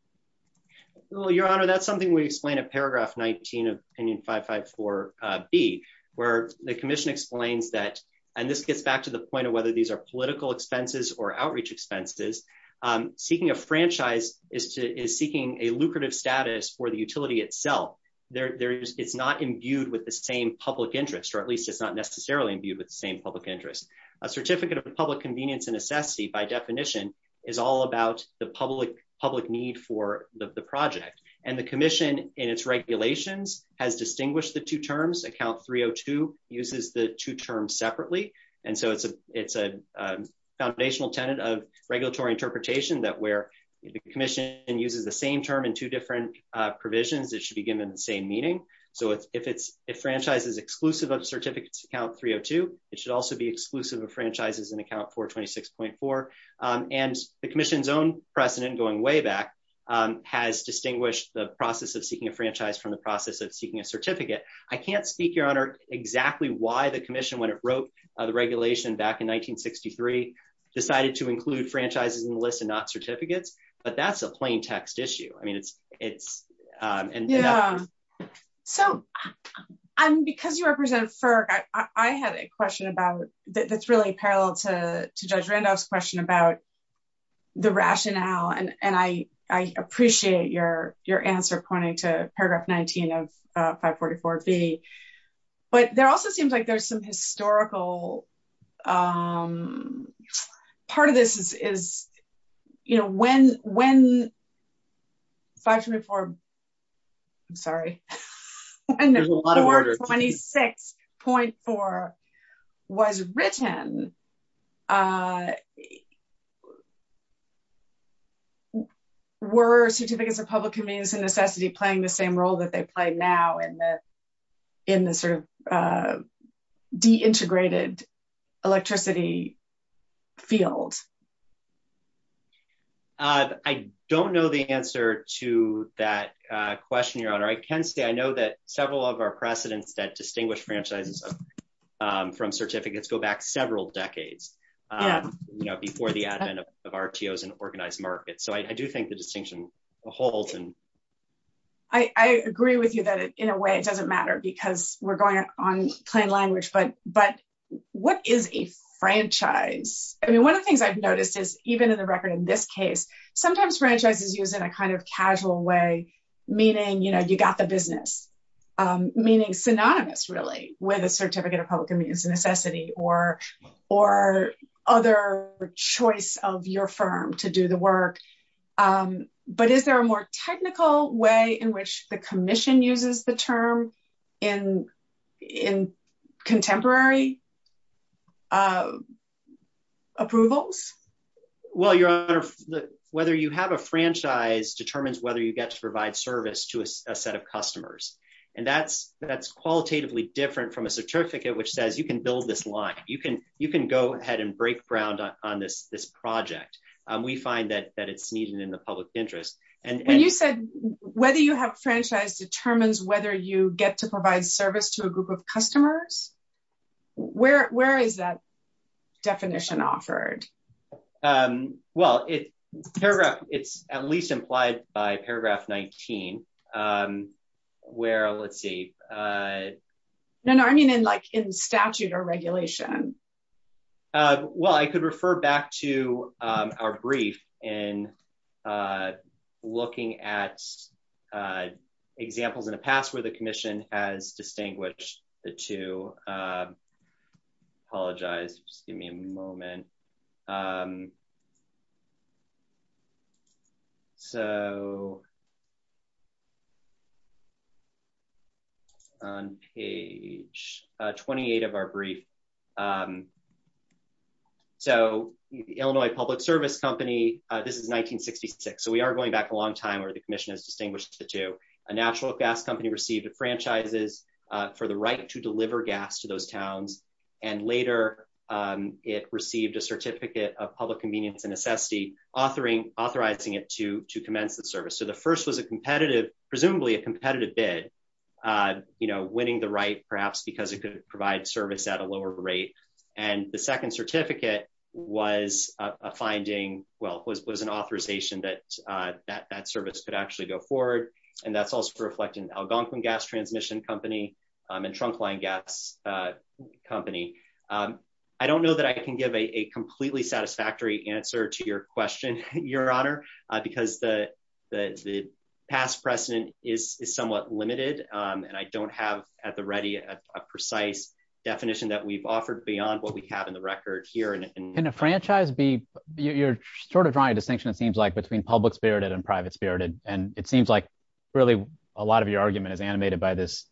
Well, Your Honor, that's something we explain in Paragraph 19 of Opinion 554B, where the Commission explains that, and this gets back to the point of whether these are political expenses or outreach expenses, seeking a franchise is seeking a lucrative status for the utility itself. It's not imbued with the same public interest, or at least it's not necessarily imbued with the same public interest. A certificate of public convenience and necessity, by definition, is all about the public need for the project. And the Commission, in its regulations, has distinguished the two terms. Account 302 uses the two terms separately. And so it's a foundational tenant of regulatory interpretation that where the Commission uses the same term in two different provisions, it should be given the same meaning. So if it's a franchise that's exclusive of Certificates Account 302, it should also be exclusive of franchises in Account 426.4. And the Commission's own precedent, going way back, has distinguished the process of seeking a franchise from the process of seeking a certificate. I can't speak, Your Honor, exactly why the Commission, when it wrote the regulation back in 1963, decided to include franchises in the list and not certificates, but that's a plain text issue. Because you represent FERC, I had a question that's really parallel to Judge Randolph's question about the rationale. And I appreciate your answer pointing to paragraph 19 of 544B. But there also seems like there's some historical – part of this is, you know, when 544 – I'm sorry – when 426.4 was written, were Certificates of Public Convenience and Necessity playing the same role that they play now? In the sort of deintegrated electricity field? I don't know the answer to that question, Your Honor. I can say I know that several of our precedents that distinguish franchises from certificates go back several decades, you know, before the advent of RTOs and organized markets. So I do think the distinction holds. I agree with you that, in a way, it doesn't matter because we're going on plain language. But what is a franchise? I mean, one of the things I've noticed is, even in the record in this case, sometimes franchise is used in a kind of casual way, meaning, you know, you got the business. Meaning synonymous, really, with a Certificate of Public Convenience and Necessity or other choice of your firm to do the work. But is there a more technical way in which the Commission uses the term in contemporary approvals? Well, Your Honor, whether you have a franchise determines whether you get to provide service to a set of customers. And that's qualitatively different from a certificate which says you can build this line. You can go ahead and break ground on this project. We find that it's needed in the public interest. And you said, whether you have a franchise determines whether you get to provide service to a group of customers? Where is that definition offered? Well, it's at least implied by paragraph 19. Where, let's see. No, no, I mean in like in statute or regulation. Well, I could refer back to our brief in looking at examples in the past where the Commission has distinguished the two. Apologize, just give me a moment. So, Page 28 of our brief. So, Illinois Public Service Company, this is 1966. So we are going back a long time where the Commission has distinguished the two. A natural gas company received a franchise for the right to deliver gas to those towns. And later, it received a certificate of public convenience and necessity authorizing it to commence the service. So the first was a competitive, presumably a competitive bid. You know, winning the right, perhaps because it could provide service at a lower rate. And the second certificate was a finding, well, it was an authorization that that service could actually go forward. And that's also reflecting Algonquin Gas Transmission Company and Trunkline Gas Company. I don't know that I can give a completely satisfactory answer to your question, Your Honor, because the past precedent is somewhat limited and I don't have at the ready a precise definition that we've offered beyond what we have in the record here. Can a franchise be, you're sort of drawing a distinction it seems like between public spirited and private spirited. And it seems like really a lot of your argument is animated by this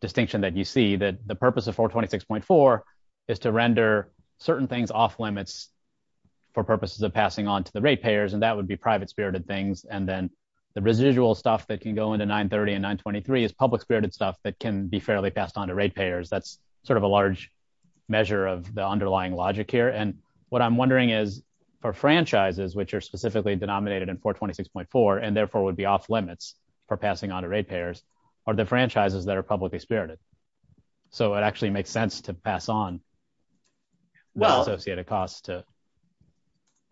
distinction that you see that the purpose of 426.4 is to render certain things off limits for purposes of passing on to the rate payers and that would be private spirited things and then the residual stuff that can go into 930 and 923 is public spirited stuff that can be fairly passed on to rate payers. That's sort of a large measure of the underlying logic here. And what I'm wondering is for franchises, which are specifically denominated in 426.4 and therefore would be off limits for passing on to rate payers, are the franchises that are publicly spirited. So it actually makes sense to pass on well associated costs to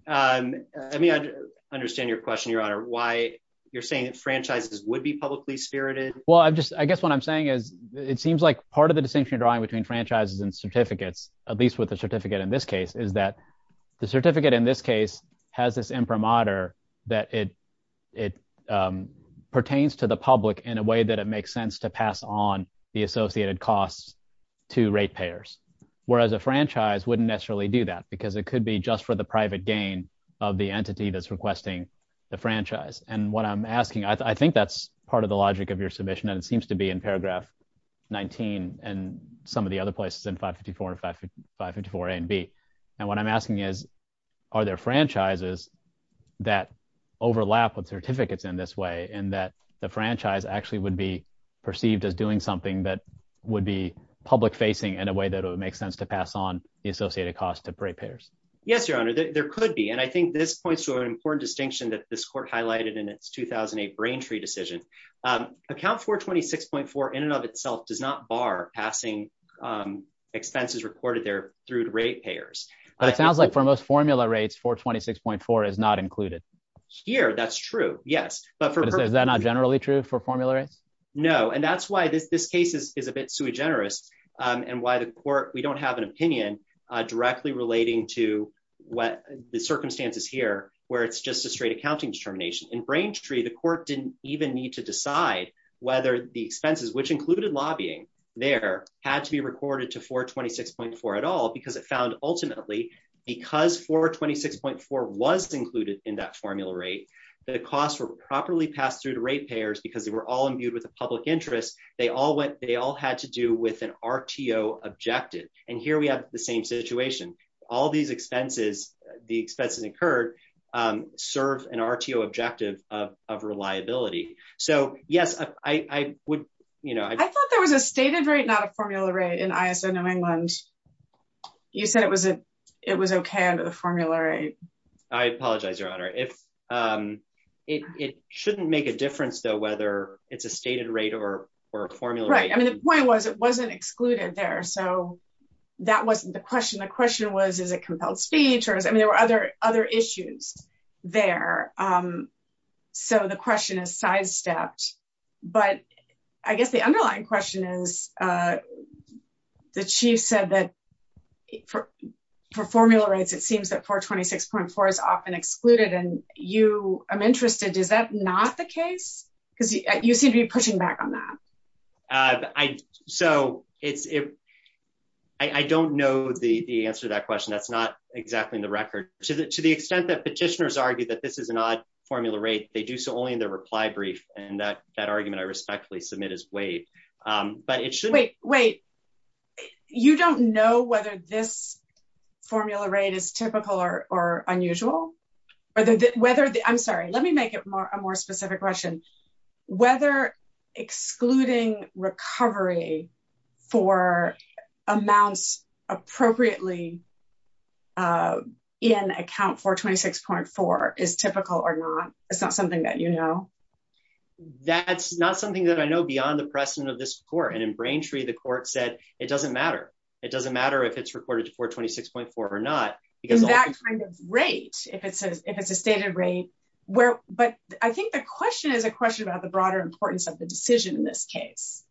Let me understand your question, Your Honor, why you're saying franchises would be publicly spirited. Well, I guess what I'm saying is, it seems like part of the distinction you're drawing between franchises and certificates, at least with a certificate in this case, is that the certificate in this case has this imprimatur that it pertains to the public in a way that it makes sense to pass on the associated costs to rate payers. Whereas a franchise wouldn't necessarily do that because it could be just for the private gain of the entity that's requesting the franchise. And what I'm asking, I think that's part of the logic of your submission and it seems to be in paragraph 19 and some of the other places in 554 and 554A and B. And what I'm asking is, are there franchises that overlap with certificates in this way and that the franchise actually would be perceived as doing something that would be public facing in a way that it would make sense to pass on the associated costs to rate payers? Yes, Your Honor, there could be. And I think this points to an important distinction that this court highlighted in its 2008 Braintree decision. Account 426.4 in and of itself does not bar passing expenses reported there through rate payers. But it sounds like for most formula rates, 426.4 is not included. Here, that's true. Yes. Is that not generally true for formula rates? No. And that's why this case is a bit sui generis and why the court, we don't have an opinion directly relating to what the circumstances here where it's just a straight accounting determination. In Braintree, the court didn't even need to decide whether the expenses, which included lobbying there, had to be recorded to 426.4 at all because it found ultimately, because 426.4 was included in that formula rate, the costs were properly passed through to rate payers because they were all imbued with the public interest. They all had to do with an RTO objective. And here we have the same situation. All these expenses, the expenses incurred, serve an RTO objective of reliability. I thought there was a stated rate, not a formula rate in ISO New England. You said it was okay under the formula rate. I apologize, Your Honor. It shouldn't make a difference, though, whether it's a stated rate or a formula rate. Right. I mean, the point was it wasn't excluded there. So that wasn't the question. The question was, is it compelled stage? I mean, there were other issues there. So the question is sidestepped. But I guess the underlying question is, the Chief said that for formula rates, it seems that 426.4 is often excluded. And I'm interested, is that not the case? Because you seem to be pushing back on that. So, I don't know the answer to that question. That's not exactly in the record. To the extent that petitioners argue that this is an odd formula rate, they do so only in their reply brief. And that argument I respectfully submit as waived. Wait, wait. You don't know whether this formula rate is typical or unusual? I'm sorry, let me make it a more specific question. Whether excluding recovery for amounts appropriately in account 426.4 is typical or not? It's not something that you know? That's not something that I know beyond the precedent of this court. And in Braintree, the court said it doesn't matter. It doesn't matter if it's reported to 426.4 or not. In that kind of rate, if it's a standard rate. But I think the question is a question about the broader importance of the decision in this case.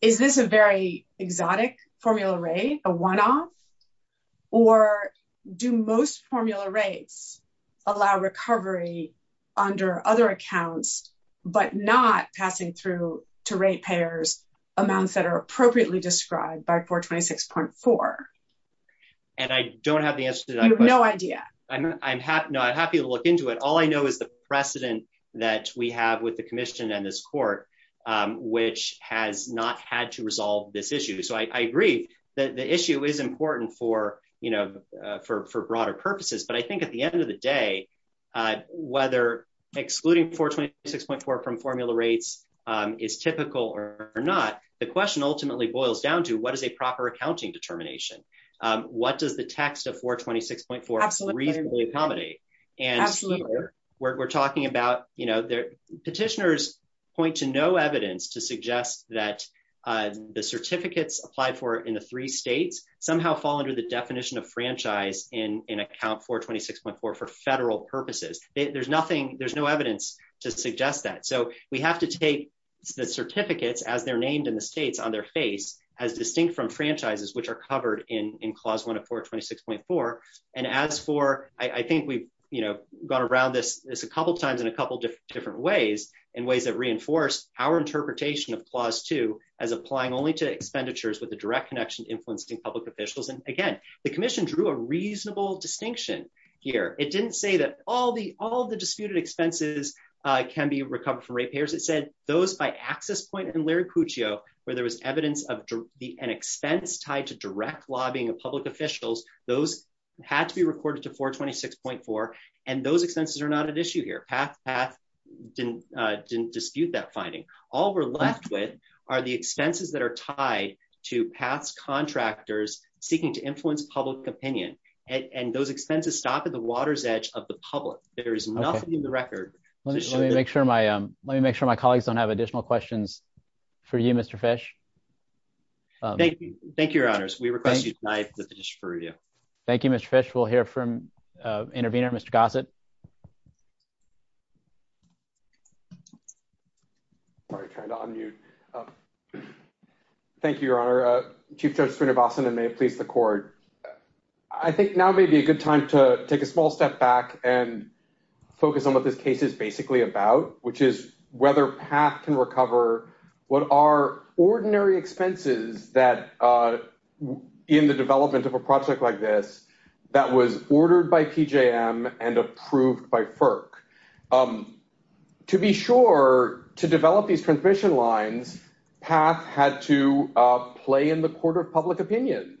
Is this a very exotic formula rate? A one-off? Or do most formula rates allow recovery under other accounts, but not passing through to rate payers amounts that are appropriately described by 426.4? You have no idea. I'm happy to look into it. All I know is the precedent that we have with the commission and this court, which has not had to resolve this issue. So I agree that the issue is important for, you know, for broader purposes. But I think at the end of the day, whether excluding 426.4 from formula rates is typical or not, the question ultimately boils down to what is a proper accounting determination? What does the text of 426.4 reasonably accommodate? And we're talking about, you know, petitioners point to no evidence to suggest that the certificates applied for in the three states somehow fall under the definition of franchise in account 426.4 for federal purposes. There's nothing, there's no evidence to suggest that. So we have to take the certificates as they're named in the states on their face as distinct from franchises, which are covered in Clause 104 of 426.4. And as for, I think we've, you know, gone around this a couple of times in a couple of different ways, in ways that reinforce our interpretation of Clause 2 as applying only to expenditures with a direct connection to influencing public officials. And again, the Commission drew a reasonable distinction here. It didn't say that all the disputed expenses can be recovered from rate payers. It said those by access point and Liricuccio, where there was evidence of an expense tied to direct lobbying of public officials, those had to be recorded to 426.4. And those expenses are not at issue here. PATH didn't dispute that finding. All we're left with are the expenses that are tied to PATH's contractors seeking to influence public opinion. And those expenses stop at the water's edge of the public. There is nothing in the record. Let me make sure my colleagues don't have additional questions for you, Mr. Fish. Thank you. Thank you, Your Honors. We request you deny the petition for review. Thank you, Mr. Fish. We'll hear from intervener, Mr. Gossett. Sorry, I'm trying to unmute. Thank you, Your Honor. Chief Judge Sreenivasan, and may it please the Court. I think now may be a good time to take a small step back and focus on what this case is basically about, which is whether PATH can recover what are ordinary expenses that, in the development of a project like this, that was ordered by PJM and approved by FERC. To be sure, to develop these transmission lines, PATH had to play in the court of public opinion.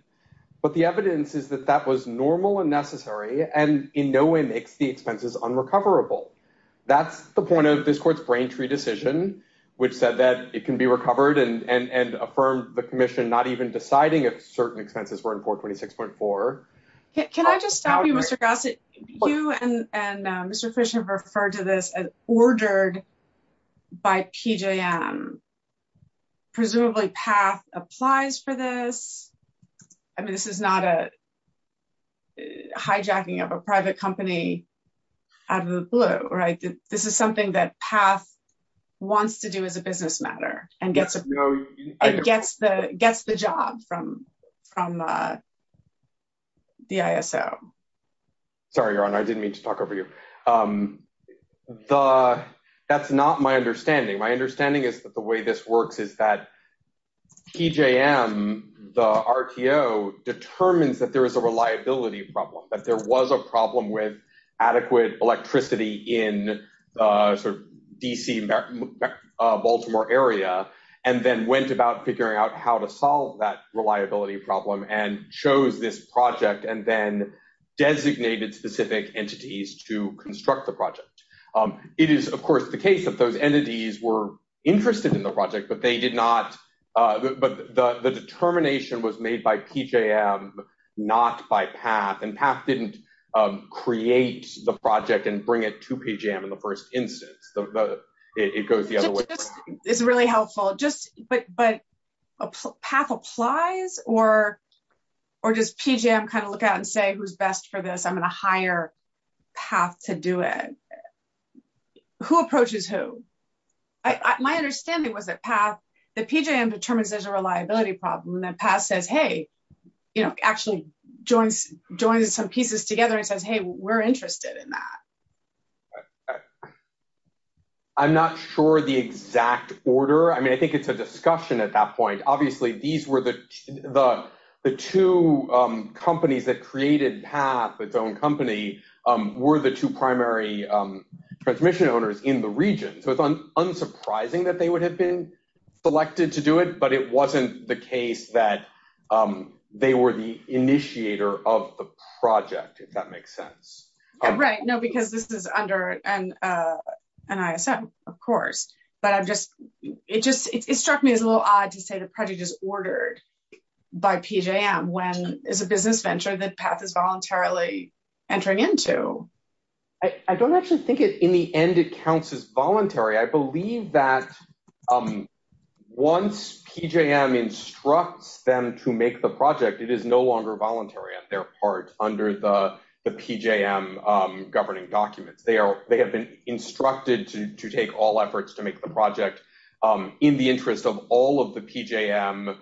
But the evidence is that that was normal and necessary and in no way makes the expenses unrecoverable. That's the point of this Court's Braintree decision, which said that it can be recovered and affirmed the commission not even deciding if certain expenses were in 426.4. Can I just stop you, Mr. Gossett? You and Mr. Fish have referred to this as ordered by PJM. Presumably, PATH applies for this. I mean, this is not a hijacking of a private company out of the blue, right? This is something that PATH wants to do as a business matter and gets the job from the ISO. Sorry, Your Honor. I didn't mean to talk over you. That's not my understanding. My understanding is that the way this works is that PJM, the RTO, determines that there is a reliability problem, that there was a problem with adequate electricity in the DC-Baltimore area, and then went about figuring out how to solve that reliability problem and chose this project and then designated specific entities to construct the project. It is, of course, the case that those entities were interested in the project, but the determination was made by PJM, not by PATH, and PATH didn't create the project and bring it to PJM in the first instance. It's really helpful, but PATH applies, or does PJM kind of look out and say, who's best for this? I'm going to hire PATH to do it. Who approaches who? My understanding was that PATH, that PJM determines there's a reliability problem, and then PATH says, hey, actually joins some pieces together and says, hey, we're interested in that. I'm not sure the exact order. I mean, I think it's a discussion at that point. Obviously, the two companies that created PATH, its own company, were the two primary transmission owners in the region. So it's unsurprising that they would have been selected to do it, but it wasn't the case that they were the initiator of the project, if that makes sense. Right. No, because this is under NISM, of course, but it struck me as a little odd to say the project is ordered by PJM, when it's a business venture that PATH is voluntarily entering into. I don't actually think in the end it counts as voluntary. I believe that once PJM instructs them to make the project, it is no longer voluntary on their part under the PJM governing documents. They have been instructed to take all efforts to make the project in the interest of all of the PJM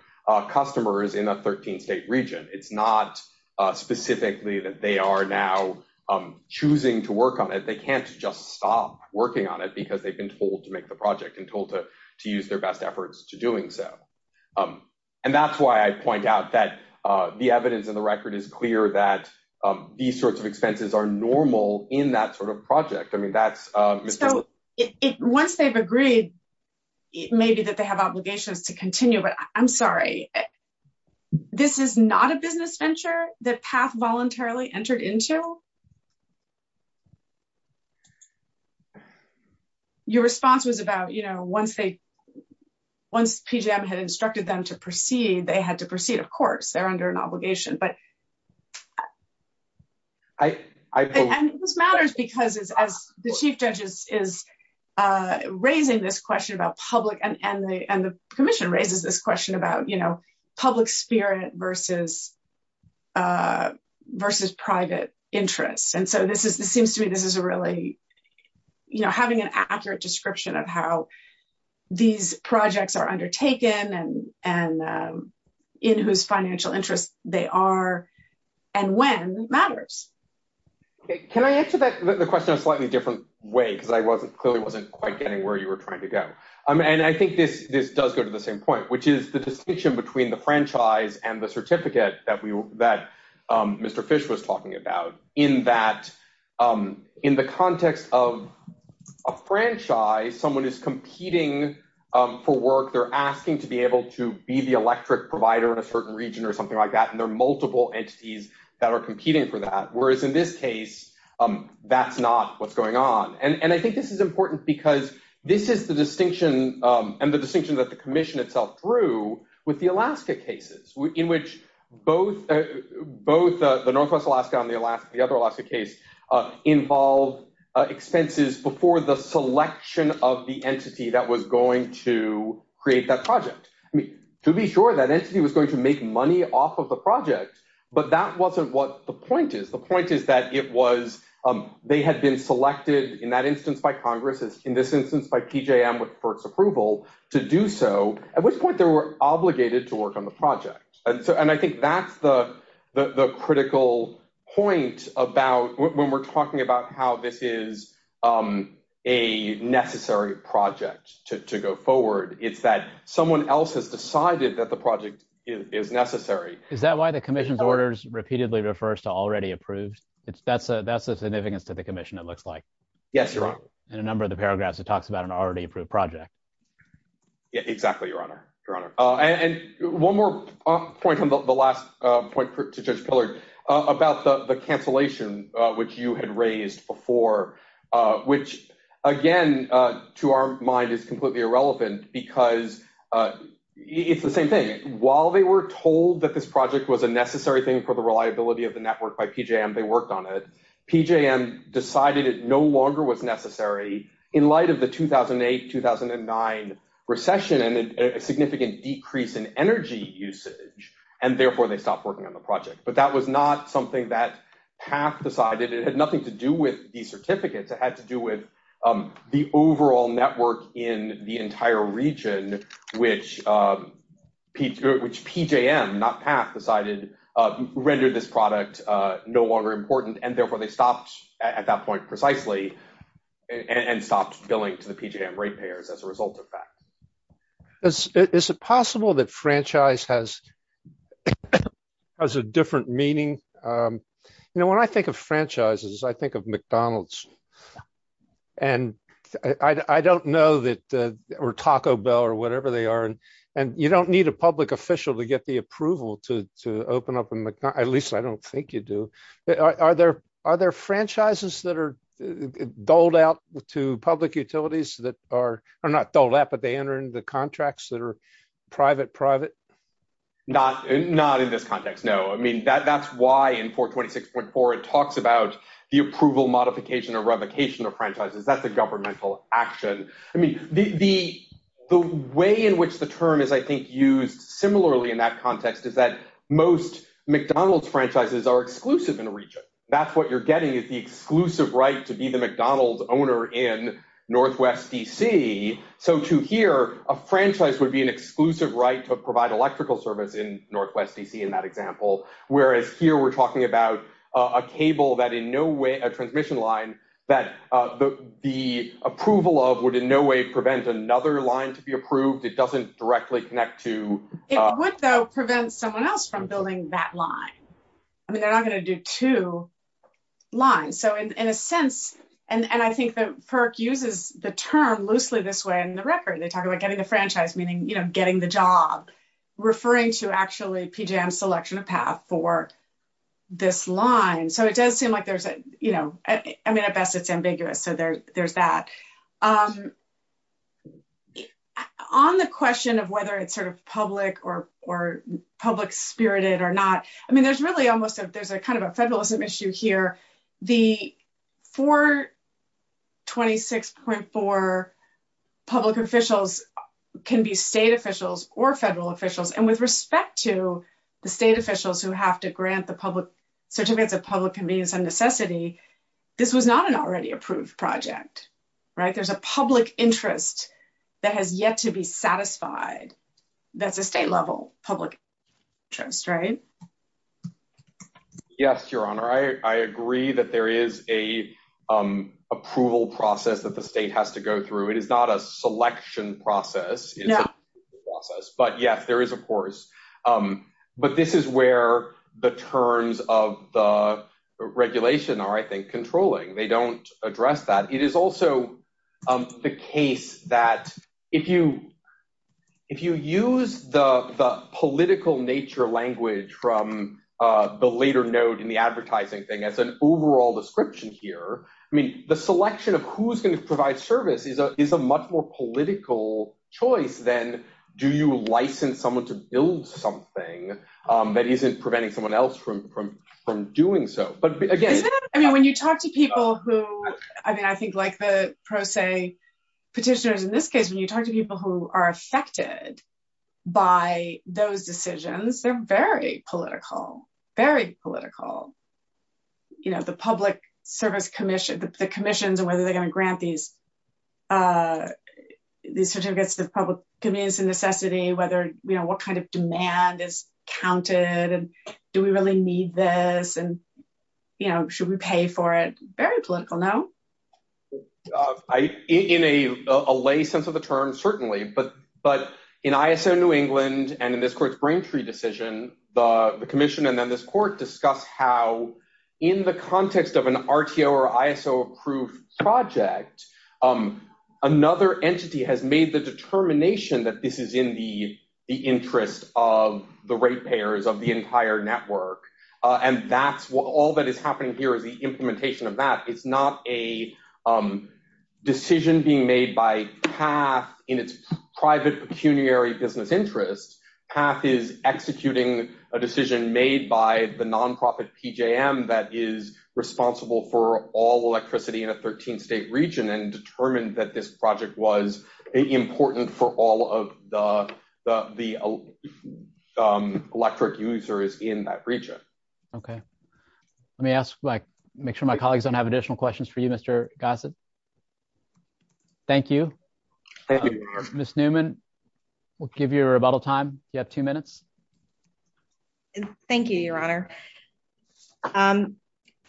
customers in a 13-state region. It's not specifically that they are now choosing to work on it. They can't just stop working on it because they've been told to make the project and told to use their best efforts to doing so. And that's why I point out that the evidence in the record is clear that these sorts of expenses are normal in that sort of project. So once they've agreed, maybe that they have obligations to continue, but I'm sorry, this is not a business venture that PATH voluntarily entered into? Your response was about, you know, once PJM had instructed them to proceed, they had to proceed. Of course, they're under an obligation. And this matters because the Chief Judge is raising this question about public, and the Commission raises this question about, you know, public spirit versus private interest. And so this seems to me this is a really, you know, having an accurate description of how these projects are undertaken and in whose financial interest they are and when matters. Can I answer the question in a slightly different way because I clearly wasn't quite getting where you were trying to go? And I think this does go to the same point, which is the distinction between the franchise and the certificate that Mr. Fish was talking about in that in the context of a franchise, someone is competing for work. They're asking to be able to be the electric provider in a certain region or something like that, and there are multiple entities that are competing for that, whereas in this case, that's not what's going on. And I think this is important because this is the distinction and the distinction that the Commission itself drew with the Alaska cases, in which both the Northwest Alaska and the other Alaska case involved expenses before the selection of the entity that was going to create that project. I mean, to be sure, that entity was going to make money off of the project, but that wasn't what the point is. The point is that it was—they had been selected in that instance by Congress, in this instance by PJM for its approval to do so, at which point they were obligated to work on the project. And I think that's the critical point about when we're talking about how this is a necessary project to go forward, is that someone else has decided that the project is necessary. Is that why the Commission's orders repeatedly refers to already approved? That's the significance to the Commission, it looks like. Yes, Your Honor. In a number of the paragraphs, it talks about an already approved project. Exactly, Your Honor. Your Honor. And one more point on the last point to Judge Pillard about the cancellation, which you had raised before, which, again, to our mind is completely irrelevant because it's the same thing. While they were told that this project was a necessary thing for the reliability of the network by PJM, they worked on it. PJM decided it no longer was necessary in light of the 2008-2009 recession and a significant decrease in energy usage, and therefore they stopped working on the project. But that was not something that PAF decided. It had nothing to do with the certificates. It had to do with the overall network in the entire region, which PJM, not PAF, decided rendered this product no longer important, and therefore they stopped at that point precisely and stopped billing to the PJM rate payers as a result of that. Is it possible that franchise has a different meaning? When I think of franchises, I think of McDonald's or Taco Bell or whatever they are. You don't need a public official to get the approval to open up a McDonald's, at least I don't think you do. Are there franchises that are doled out to public utilities that are not doled out, but they enter into the contracts that are private-private? Not in this context, no. I mean, that's why in 426.4 it talks about the approval modification or revocation of franchises. That's a governmental action. The way in which the term is, I think, used similarly in that context is that most McDonald's franchises are exclusive in a region. That's what you're getting is the exclusive right to be the McDonald's owner in Northwest DC. To here, a franchise would be an exclusive right to provide electrical service in Northwest DC in that example, whereas here we're talking about a transmission line that the approval of would in no way prevent another line to be approved. It doesn't directly connect to— It would, though, prevent someone else from building that line. They're not going to do two lines. And I think that PERC uses the term loosely this way in the record. They talk about getting a franchise, meaning getting the job, referring to actually PJM's selection of path for this line. So it does seem like there's a—I mean, at best it's ambiguous, so there's that. On the question of whether it's sort of public or public-spirited or not, I mean, there's really almost a—there's kind of a federalism issue here. The 426.4 public officials can be state officials or federal officials. And with respect to the state officials who have to grant the public—certificate the public convenience and necessity, this was not an already approved project, right? There's a public interest that has yet to be satisfied that's a state-level public interest, right? Yes, Your Honor, I agree that there is an approval process that the state has to go through. It is not a selection process. It is a decision process. But, yes, there is a course. But this is where the terms of the regulation are, I think, controlling. They don't address that. It is also the case that if you use the political nature language from the later note in the advertising thing as an overall description here, I mean, the selection of who's going to provide service is a much more political choice than do you license someone to build something that isn't preventing someone else from doing so. I mean, when you talk to people who—I mean, I think like the pro se petitioners in this case, when you talk to people who are affected by those decisions, they're very political, very political. You know, the public service commission—the commissions and whether they're going to grant these certificates of public convenience and necessity, whether—you know, what kind of demand is counted, and do we really need this, and, you know, should we pay for it? Very political, no? In a lay sense of the term, certainly. But in ISO New England and in this court's Brain Tree decision, the commission and then this court discussed how in the context of an RTO or ISO approved project, another entity has made the determination that this is in the interest of the rate payers of the entire network. And all that has happened here is the implementation of that. It's not a decision being made by PATH in its private pecuniary business interest. PATH is executing a decision made by the nonprofit PJM that is responsible for all electricity in a 13-state region and determined that this project was important for all of the electric users in that region. Okay. Let me ask—make sure my colleagues don't have additional questions for you, Mr. Gossett. Thank you. Thank you. Ms. Newman, we'll give you a rebuttal time. You have two minutes. Thank you, Your Honor.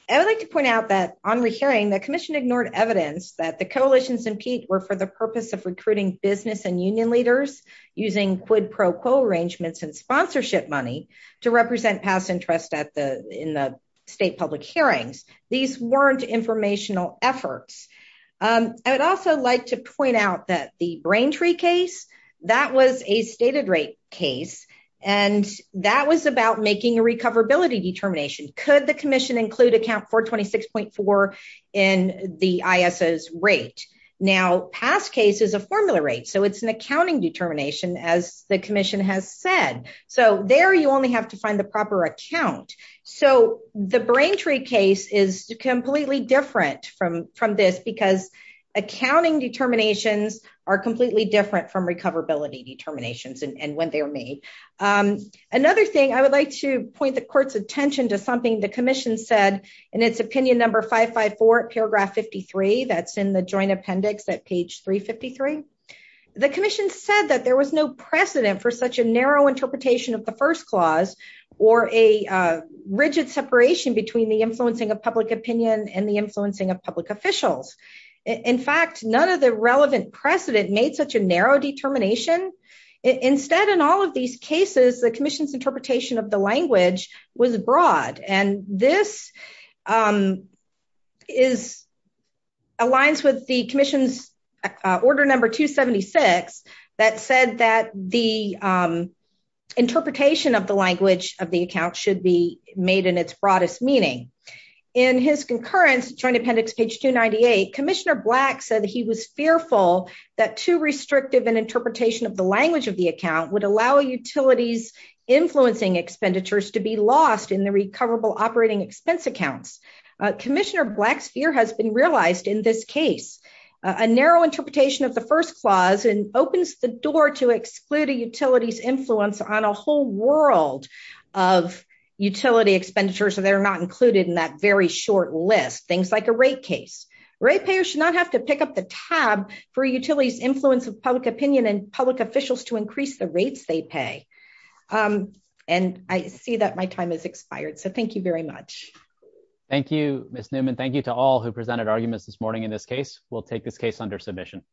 I would like to point out that on the hearing, the commission ignored evidence that the coalitions in PEATS were for the purpose of recruiting business and union leaders using quid pro quo arrangements and sponsorship money to represent past interests in the state public hearings. These weren't informational efforts. I would also like to point out that the Braintree case, that was a stated rate case, and that was about making a recoverability determination. Could the commission include account 426.4 in the ISO's rate? Now, PATH's case is a formula rate, so it's an accounting determination, as the commission has said. So there you only have to find the proper account. So the Braintree case is completely different from this because accounting determinations are completely different from recoverability determinations and when they were made. Another thing, I would like to point the court's attention to something the commission said in its opinion number 554, paragraph 53, that's in the joint appendix at page 353. The commission said that there was no precedent for such a narrow interpretation of the first clause or a rigid separation between the influencing of public opinion and the influencing of public officials. In fact, none of the relevant precedent made such a narrow determination. Instead, in all of these cases, the commission's interpretation of the language was broad. And this aligns with the commission's order number 276 that said that the interpretation of the language of the account should be made in its broadest meaning. In his concurrence, joint appendix page 298, Commissioner Black said he was fearful that too restrictive an interpretation of the language of the account would allow utilities influencing expenditures to be lost in the recoverable operating expense accounts. Commissioner Black's fear has been realized in this case. A narrow interpretation of the first clause opens the door to excluding utilities' influence on a whole world of utility expenditures that are not included in that very short list, things like a rate case. Rate payers should not have to pick up the tab for utilities' influence of public opinion and public officials to increase the rates they pay. And I see that my time has expired, so thank you very much. Thank you, Ms. Newman. Thank you to all who presented arguments this morning in this case. We'll take this case under submission.